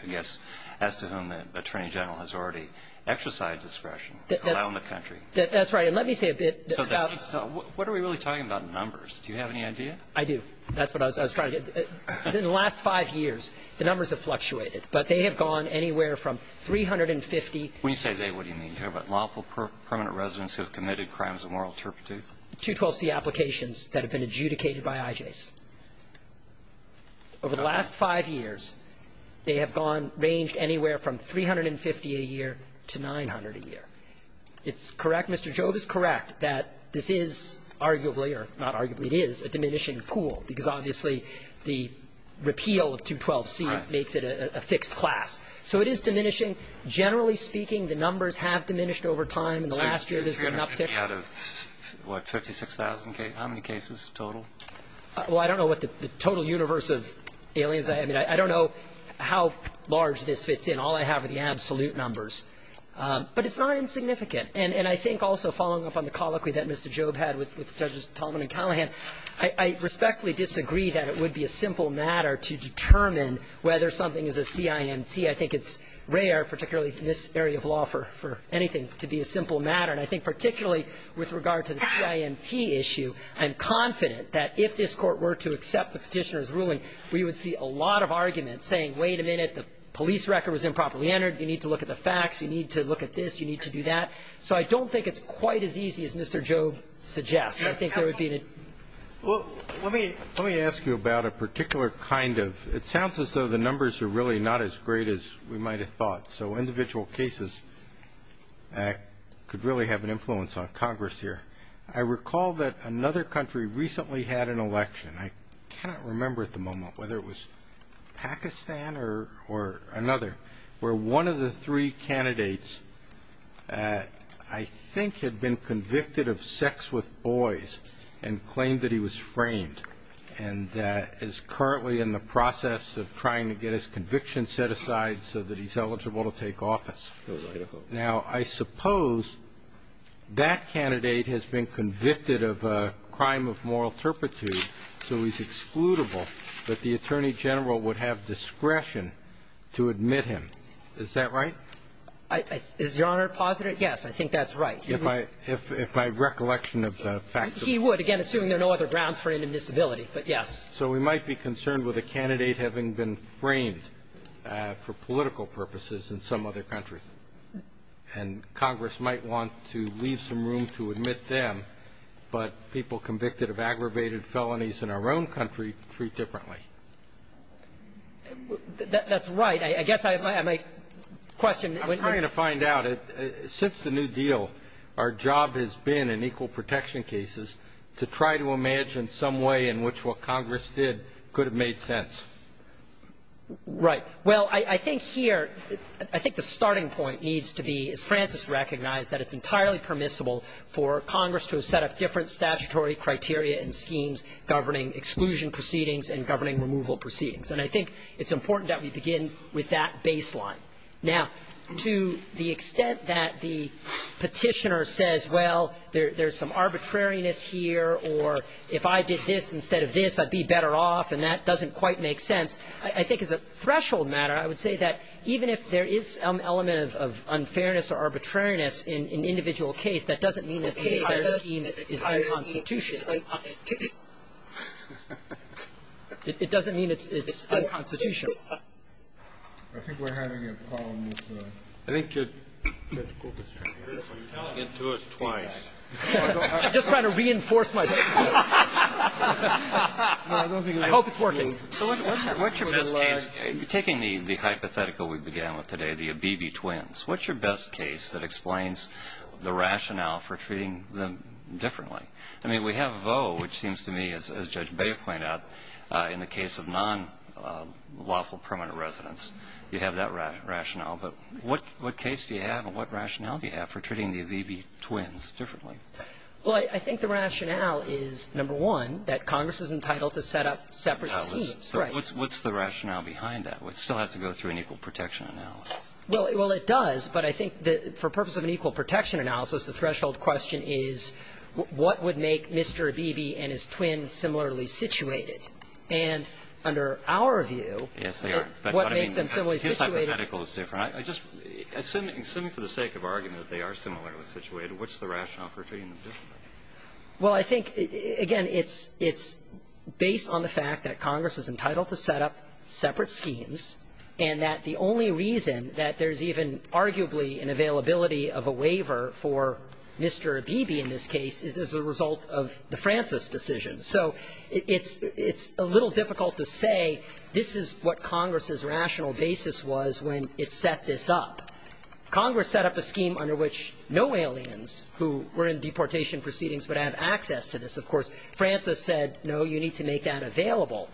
I guess, as to whom the Attorney General has already exercised discretion to allow in the country. That's right. And let me say a bit about – So what are we really talking about in numbers? Do you have any idea? I do. That's what I was trying to get – within the last five years, the numbers have fluctuated. But they have gone anywhere from 350 – When you say they, what do you mean? You're talking about lawful permanent residence who have committed crimes of moral turpitude? 212c applications that have been adjudicated by IJs. Over the last five years, they have gone – ranged anywhere from 350 a year to 900 a year. It's correct – Mr. Jobe is correct that this is arguably – or not arguably, it is a diminishing pool because obviously the repeal of 212c makes it a fixed class. So it is diminishing. Generally speaking, the numbers have diminished over time. In the last year, there's been an uptick. So you're going to pick me out of, what, 36,000 cases – how many cases total? Well, I don't know what the total universe of aliens – I mean, I don't know how large this fits in. All I have are the absolute numbers. But it's not insignificant. And I think also following up on the colloquy that Mr. Jobe had with Judges Tallman and Callahan, I respectfully disagree that it would be a simple matter to determine whether something is a CIMT. I think it's rare, particularly in this area of law, for anything to be a simple matter. And I think particularly with regard to the CIMT issue, I'm confident that if this Court were to accept the Petitioner's ruling, we would see a lot of arguments saying, wait a minute, the police record was improperly entered. You need to look at the facts. You need to look at this. You need to do that. So I don't think it's quite as easy as Mr. Jobe suggests. And I think there would be – Well, let me – let me ask you about a particular kind of – it sounds as though the numbers are really not as great as we might have thought. So individual cases could really have an influence on Congress here. I recall that another country recently had an election. I cannot remember at the moment whether it was Pakistan or another, where one of the three candidates I think had been convicted of sex with boys and claimed that he was framed and is currently in the process of trying to get his conviction set aside so that he's eligible to take office. Now, I suppose that candidate has been convicted of a crime of moral turpitude, so he's excludable, but the Attorney General would have discretion to admit him. Is that right? Is Your Honor positive? Yes, I think that's right. If my recollection of the facts are correct. He would, again, assuming there are no other grounds for inadmissibility, but yes. So we might be concerned with a candidate having been framed for political purposes in some other country. And Congress might want to leave some room to admit them, but people convicted of aggravated felonies in our own country treat differently. That's right. I guess I might question the question. I'm trying to find out. Since the New Deal, our job has been in equal protection cases to try to imagine in some way in which what Congress did could have made sense. Right. Well, I think here, I think the starting point needs to be, as Francis recognized, that it's entirely permissible for Congress to have set up different statutory criteria and schemes governing exclusion proceedings and governing removal proceedings. And I think it's important that we begin with that baseline. Now, to the extent that the Petitioner says, well, there's some arbitrariness here, or if I did this instead of this, I'd be better off, and that doesn't quite make sense, I think as a threshold matter, I would say that even if there is some element of unfairness or arbitrariness in an individual case, that doesn't mean that the entire scheme is unconstitutional. It doesn't mean it's unconstitutional. I think we're having a problem with the ---- I think Judge Kulbis is trying to get to us twice. I'm just trying to reinforce my point. I hope it's working. So what's your best case? Taking the hypothetical we began with today, the Abebe twins, what's your best case that explains the rationale for treating them differently? I mean, we have Voe, which seems to me, as Judge Beyer pointed out, in the case of nonlawful permanent residents, you have that rationale. But what case do you have and what rationale do you have for treating the Abebe twins differently? Well, I think the rationale is, number one, that Congress is entitled to set up separate schemes. Right. What's the rationale behind that? It still has to go through an equal protection analysis. Well, it does, but I think for purpose of an equal protection analysis, the threshold question is what would make Mr. Abebe and his twin similarly situated? And under our view, what makes them similarly situated? Yes, they are. But I mean, his hypothetical is different. I just assume for the sake of argument that they are similarly situated. What's the rationale for treating them differently? Well, I think, again, it's based on the fact that Congress is entitled to set up separate schemes and that the only reason that there's even arguably an availability of a waiver for Mr. Abebe in this case is as a result of the Francis decision. So it's a little difficult to say this is what Congress's rational basis was when it set this up. Congress set up a scheme under which no aliens who were in deportation proceedings would have access to this. Of course, Francis said, no, you need to make that available.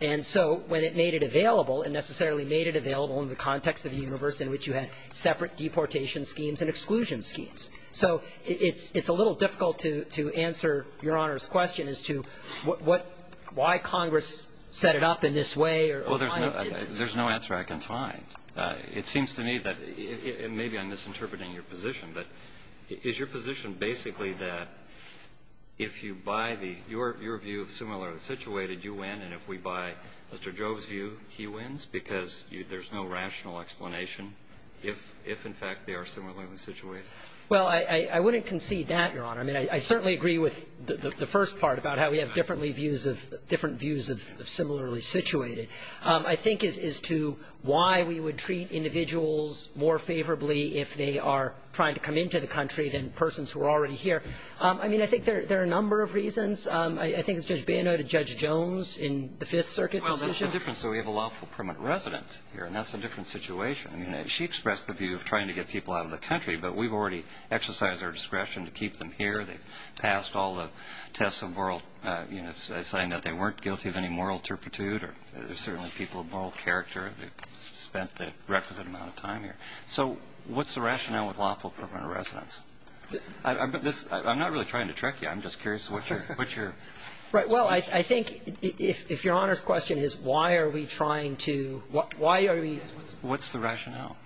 And so when it made it available, it necessarily made it available in the context of the universe in which you had separate deportation schemes and exclusion schemes. So it's a little difficult to answer Your Honor's question as to what why Congress set it up in this way or why it did this. There's no answer I can find. It seems to me that it may be I'm misinterpreting your position, but is your position basically that if you buy the your view of similarly situated, you win, and if we buy Mr. Jove's view, he wins, because there's no rational explanation if, in fact, they are similarly situated? Well, I wouldn't concede that, Your Honor. I mean, I certainly agree with the first part about how we have differently views of the different views of similarly situated. I think as to why we would treat individuals more favorably if they are trying to come into the country than persons who are already here, I mean, I think there are a number of reasons. I think it's Judge Banno to Judge Jones in the Fifth Circuit position. Well, that's the difference. So we have a lawful permanent resident here, and that's a different situation. I mean, she expressed the view of trying to get people out of the country, but we've already exercised our discretion to keep them here. They've passed all the tests of moral, you know, saying that they weren't guilty of any moral turpitude, or they're certainly people of moral character that spent the requisite amount of time here. So what's the rationale with lawful permanent residence? I'm not really trying to trick you. I'm just curious what your question is. Well, I think if Your Honor's question is why are we trying to why are we What's the rationale?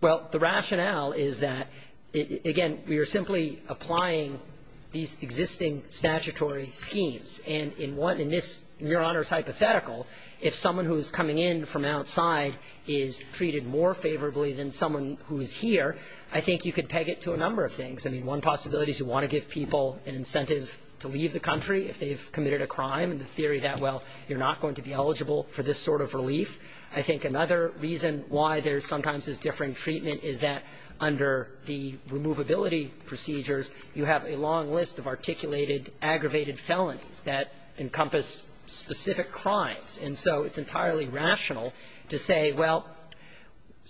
Well, the rationale is that, again, we are simply applying these existing statutory And in this, in Your Honor's hypothetical, if someone who is coming in from outside is treated more favorably than someone who is here, I think you could peg it to a number of things. I mean, one possibility is you want to give people an incentive to leave the country if they've committed a crime, and the theory that, well, you're not going to be eligible for this sort of relief. I think another reason why there's sometimes this differing treatment is that under the removability procedures, you have a long list of articulated, aggravated felonies that encompass specific crimes. And so it's entirely rational to say, well,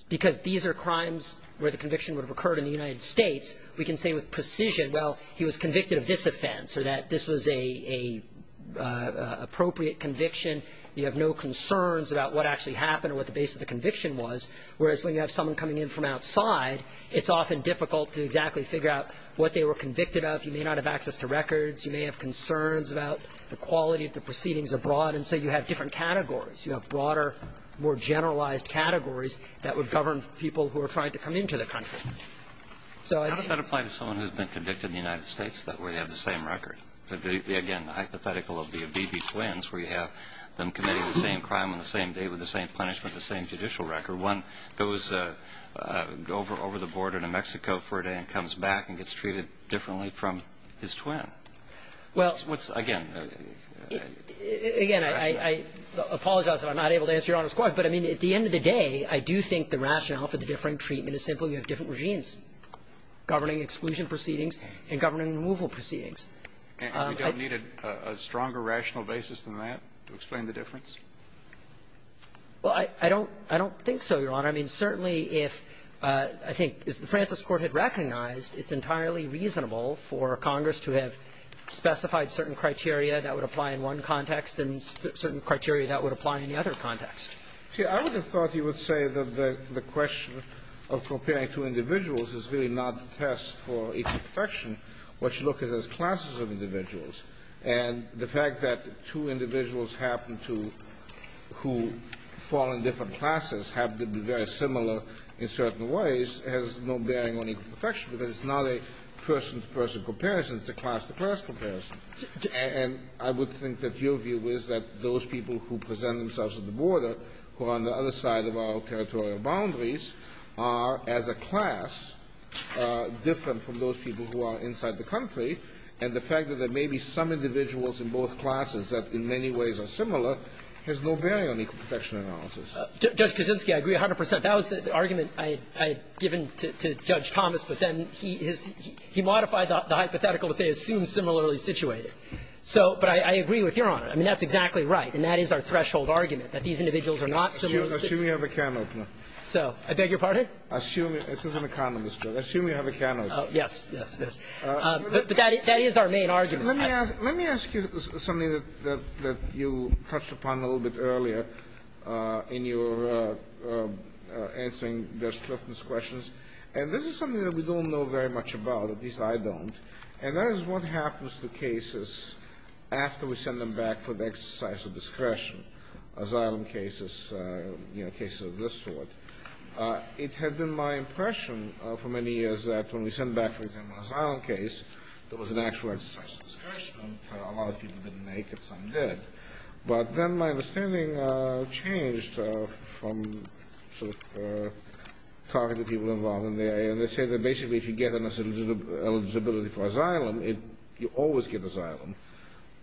because these are crimes where the conviction would have occurred in the United States, we can say with precision, well, he was convicted of this offense or that this was a appropriate conviction. You have no concerns about what actually happened or what the base of the conviction was, whereas when you have someone coming in from outside, it's often difficult to exactly figure out what they were convicted of. You may not have access to records. You may have concerns about the quality of the proceedings abroad. And so you have different categories. You have broader, more generalized categories that would govern people who are trying to come into the country. So I think that applies to someone who has been convicted in the United States, that way they have the same record. Again, the hypothetical would be of B.B. Twins, where you have them committing the same crime on the same day with the same punishment, the same judicial record. One goes over the border to Mexico for a day and comes back and gets treated differently from his twin. Well, again, I apologize if I'm not able to answer Your Honor's question, but I mean, at the end of the day, I do think the rationale for the different treatment is simply you have different regimes governing exclusion proceedings and governing removal proceedings. And we don't need a stronger rational basis than that to explain the difference? Well, I don't think so, Your Honor. I mean, certainly if, I think, as the Francis Court had recognized, it's entirely reasonable for Congress to have specified certain criteria that would apply in one context and certain criteria that would apply in the other context. See, I would have thought you would say that the question of comparing two individuals is really not the test for equal protection. What you look at is classes of individuals. And the fact that two individuals happen to, who fall in different classes, happen to be very similar in certain ways has no bearing on equal protection, because it's not a person-to-person comparison. It's a class-to-class comparison. And I would think that your view is that those people who present themselves at the border, who are on the other side of our territorial boundaries, are, as a class, different from those people who are inside the country. And the fact that there may be some individuals in both classes that, in many ways, are similar has no bearing on equal protection analysis. Judge Kuczynski, I agree 100 percent. That was the argument I had given to Judge Thomas, but then he modified the hypothetical to say, assumed similarly situated. So, but I agree with Your Honor. I mean, that's exactly right. And that is our threshold argument, that these individuals are not similarly situated. Assume you have a can opener. So, I beg your pardon? Assume, this is an economist's job. Assume you have a can opener. Yes, yes, yes. But that is our main argument. Let me ask you something that you touched upon a little bit earlier in your answering Judge Clifton's questions. And this is something that we don't know very much about. At least, I don't. And that is what happens to cases after we send them back for the exercise of discretion, asylum cases, you know, cases of this sort. It had been my impression for many years that when we sent back, for example, an asylum case, there was an actual exercise of discretion. A lot of people didn't make it. Some did. But then my understanding changed from sort of talking to people involved in there. And they say that basically, if you get an eligibility for asylum, you always get asylum.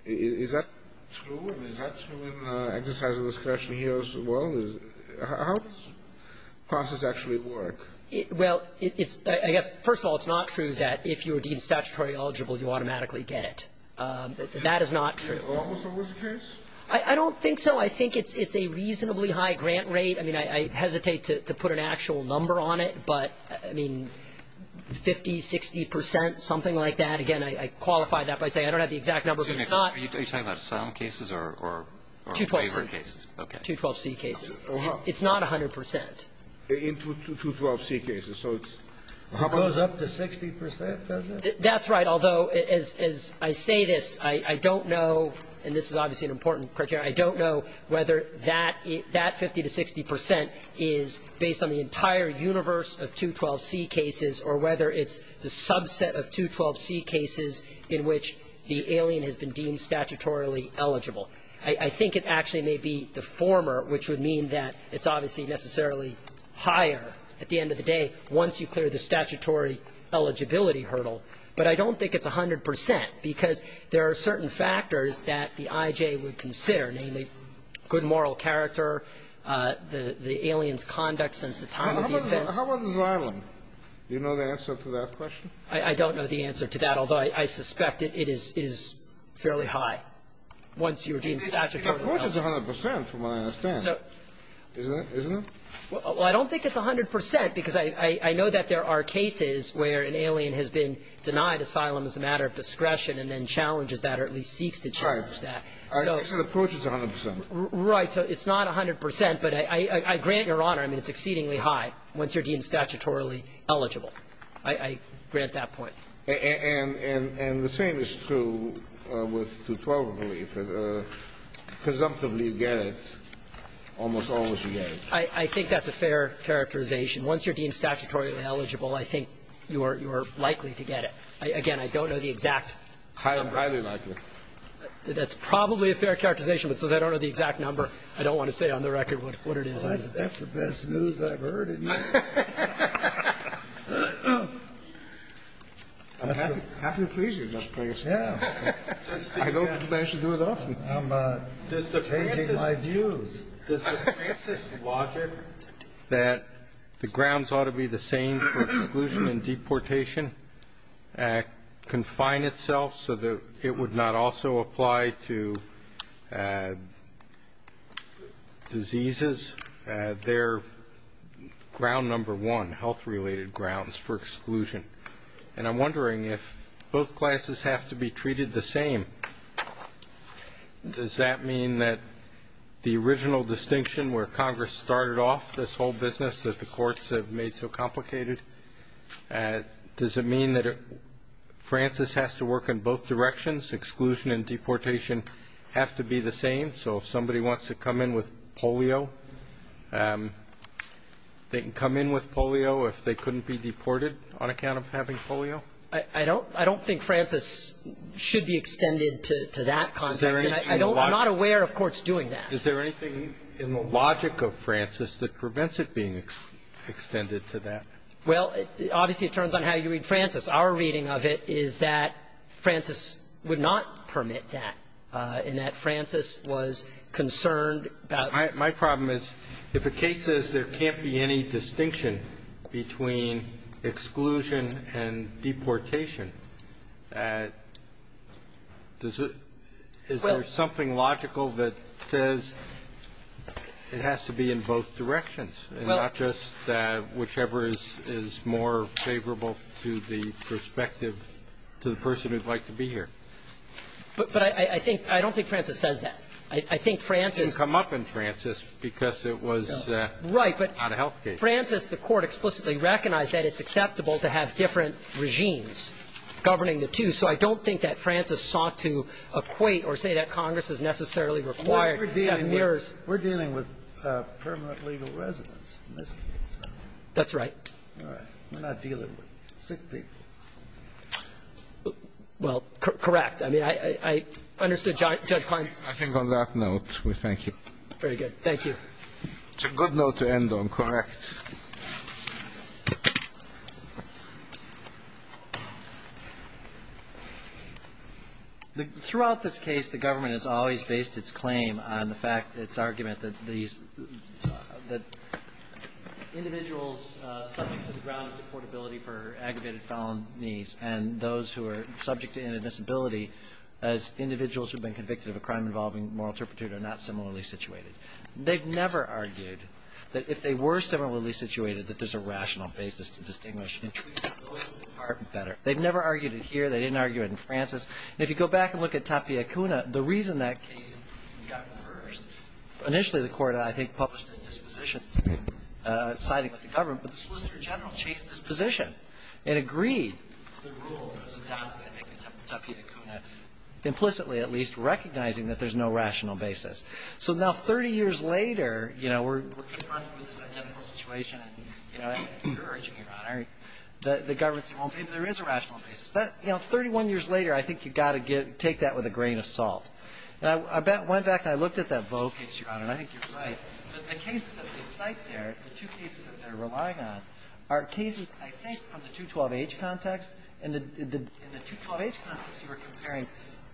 Is that true? I mean, is that true in exercise of discretion here as well? How does the process actually work? Well, I guess, first of all, it's not true that if you're deemed statutory eligible, you automatically get it. That is not true. So what was the case? I don't think so. I think it's a reasonably high grant rate. I mean, I hesitate to put an actual number on it. But I mean, 50%, 60%, something like that. Again, I qualify that by saying I don't have the exact number, but it's not. Are you talking about asylum cases or waiver cases? 212C cases. It's not 100%. In 212C cases. So it goes up to 60%, doesn't it? That's right. Although, as I say this, I don't know, and this is obviously an important criteria, I don't know whether that 50% to 60% is based on the entire universe of 212C cases or whether it's the subset of 212C cases in which the alien has been deemed statutorily eligible. I think it actually may be the former, which would mean that it's obviously necessarily higher at the end of the day once you clear the statutory eligibility hurdle. But I don't think it's 100%, because there are certain factors that the IJ would consider, namely good moral character, the alien's conduct since the time of the offense. How about asylum? Do you know the answer to that question? I don't know the answer to that, although I suspect it is fairly high. Once you're deemed statutorily eligible. It approaches 100%, from what I understand. Isn't it? Well, I don't think it's 100%, because I know that there are cases where an alien has been denied asylum as a matter of discretion and then challenges that or at least seeks to challenge that. I think it approaches 100%. Right. So it's not 100%, but I grant Your Honor, I mean, it's exceedingly high once you're deemed statutorily eligible. I grant that point. And the same is true with 212 relief. Presumptively you get it, almost always you get it. I think that's a fair characterization. Once you're deemed statutorily eligible, I think you are likely to get it. Again, I don't know the exact number. Highly likely. That's probably a fair characterization, but since I don't know the exact number, I don't want to say on the record what it is. That's the best news I've heard in years. I'm happy to please you, Justice Breyer. I don't manage to do it often. I'm changing my views. Does the Francis logic that the grounds ought to be the same for exclusion and deportation confine itself so that it would not also apply to diseases? They're ground number one, health-related grounds for exclusion. And I'm wondering if both classes have to be treated the same, does that mean that the original distinction where Congress started off this whole business that the courts have made so complicated, does it mean that Francis has to work in both directions? Exclusion and deportation have to be the same. So if somebody wants to come in with polio, they can come in with polio if they couldn't be deported on account of having polio? I don't think Francis should be extended to that context. I'm not aware of courts doing that. Is there anything in the logic of Francis that prevents it being extended to that? Well, obviously, it turns on how you read Francis. Our reading of it is that Francis would not permit that, and that Francis was concerned about the case. My problem is, if a case says there can't be any distinction between exclusion and deportation, does it – is there something logical that says it has to be in both directions and not just whichever is more favorable to the perspective to the person who would like to be here? But I think – I don't think Francis says that. I think Francis – It didn't come up in Francis because it was not a health case. Right. But Francis, the Court explicitly recognized that it's acceptable to have different regimes governing the two. So I don't think that Francis sought to equate or say that Congress is necessarily required to have mirrors. We're dealing with permanent legal residents in this case. That's right. All right. We're not dealing with sick people. Well, correct. I mean, I understood Judge Klein. I think on that note, we thank you. Very good. Thank you. It's a good note to end on, correct? Throughout this case, the government has always based its claim on the fact – its argument that these – that individuals subject to the ground of deportability for aggravated felonies and those who are subject to inadmissibility as individuals who have been convicted of a crime involving moral turpitude are not similarly situated. They've never argued that if they were similarly situated, that there's a rational basis to distinguish and treat those with heart better. They've never argued it here. They didn't argue it in Francis. If you go back and look at Tapia Kuna, the reason that case got first, initially the Court, I think, published a disposition citing the government, but the Solicitor recognizing that there's no rational basis. So now, 30 years later, you know, we're confronted with this identical situation and, you know, you're urging, Your Honor, that the government say, well, maybe there is a rational basis. That, you know, 31 years later, I think you've got to get – take that with a grain of salt. And I went back and I looked at that Vaux case, Your Honor, and I think you're right. The cases that they cite there, the two cases that they're relying on, are cases, I think, from the 212-H context. In the – in the 212-H context, you are comparing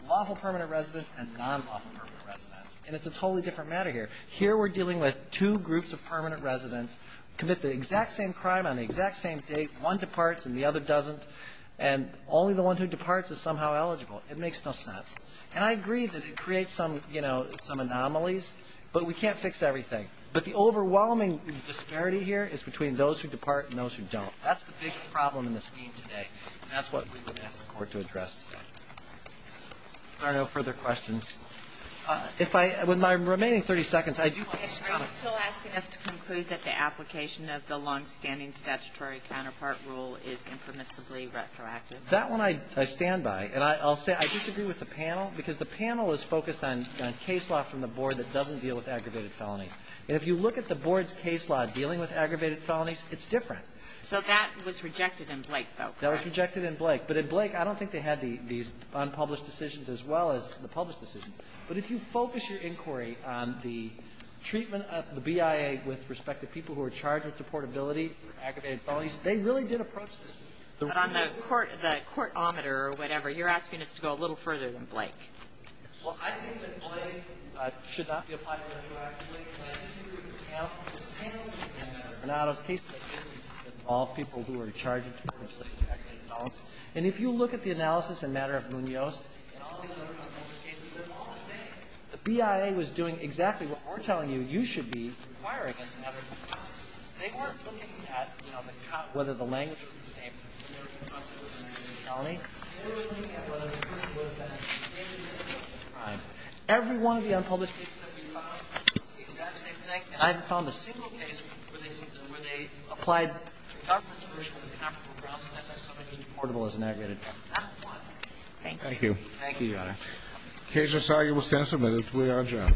lawful permanent residents and non-lawful permanent residents. And it's a totally different matter here. Here, we're dealing with two groups of permanent residents, commit the exact same crime on the exact same date, one departs and the other doesn't, and only the one who departs is somehow eligible. It makes no sense. And I agree that it creates some, you know, some anomalies, but we can't fix everything. But the overwhelming disparity here is between those who depart and those who don't. That's the biggest problem in the scheme today. And that's what we would ask the Court to address today. If there are no further questions. If I – with my remaining 30 seconds, I do want to – Are you still asking us to conclude that the application of the long-standing statutory counterpart rule is impermissibly retroactive? That one I stand by. And I'll say I disagree with the panel because the panel is focused on case law from the board that doesn't deal with aggravated felonies. And if you look at the board's case law dealing with aggravated felonies, it's different. So that was rejected in Blake, though, correct? That was rejected in Blake. But in Blake, I don't think they had these unpublished decisions as well as the published decisions. But if you focus your inquiry on the treatment of the BIA with respect to people who are charged with deportability for aggravated felonies, they really did approach this. But on the court – the court-ometer or whatever, you're asking us to go a little further than Blake. Well, I think that Blake should not be applied to retroactively, but I disagree with the panel. And if you look at the analysis in matter of Munoz, the BIA was doing exactly what we're telling you you should be inquiring as a matter of request. They weren't looking at, you know, the cut, whether the language was the same. They were looking at whether the person would have been in a criminal crime. Every one of the unpublished cases that we've found, I haven't found the same case where they see – where they applied the government's version of the capital grounds that says somebody is deportable as an aggravated felon. Thank you. Thank you, Your Honor. The case is salubrious and submitted. We are adjourned.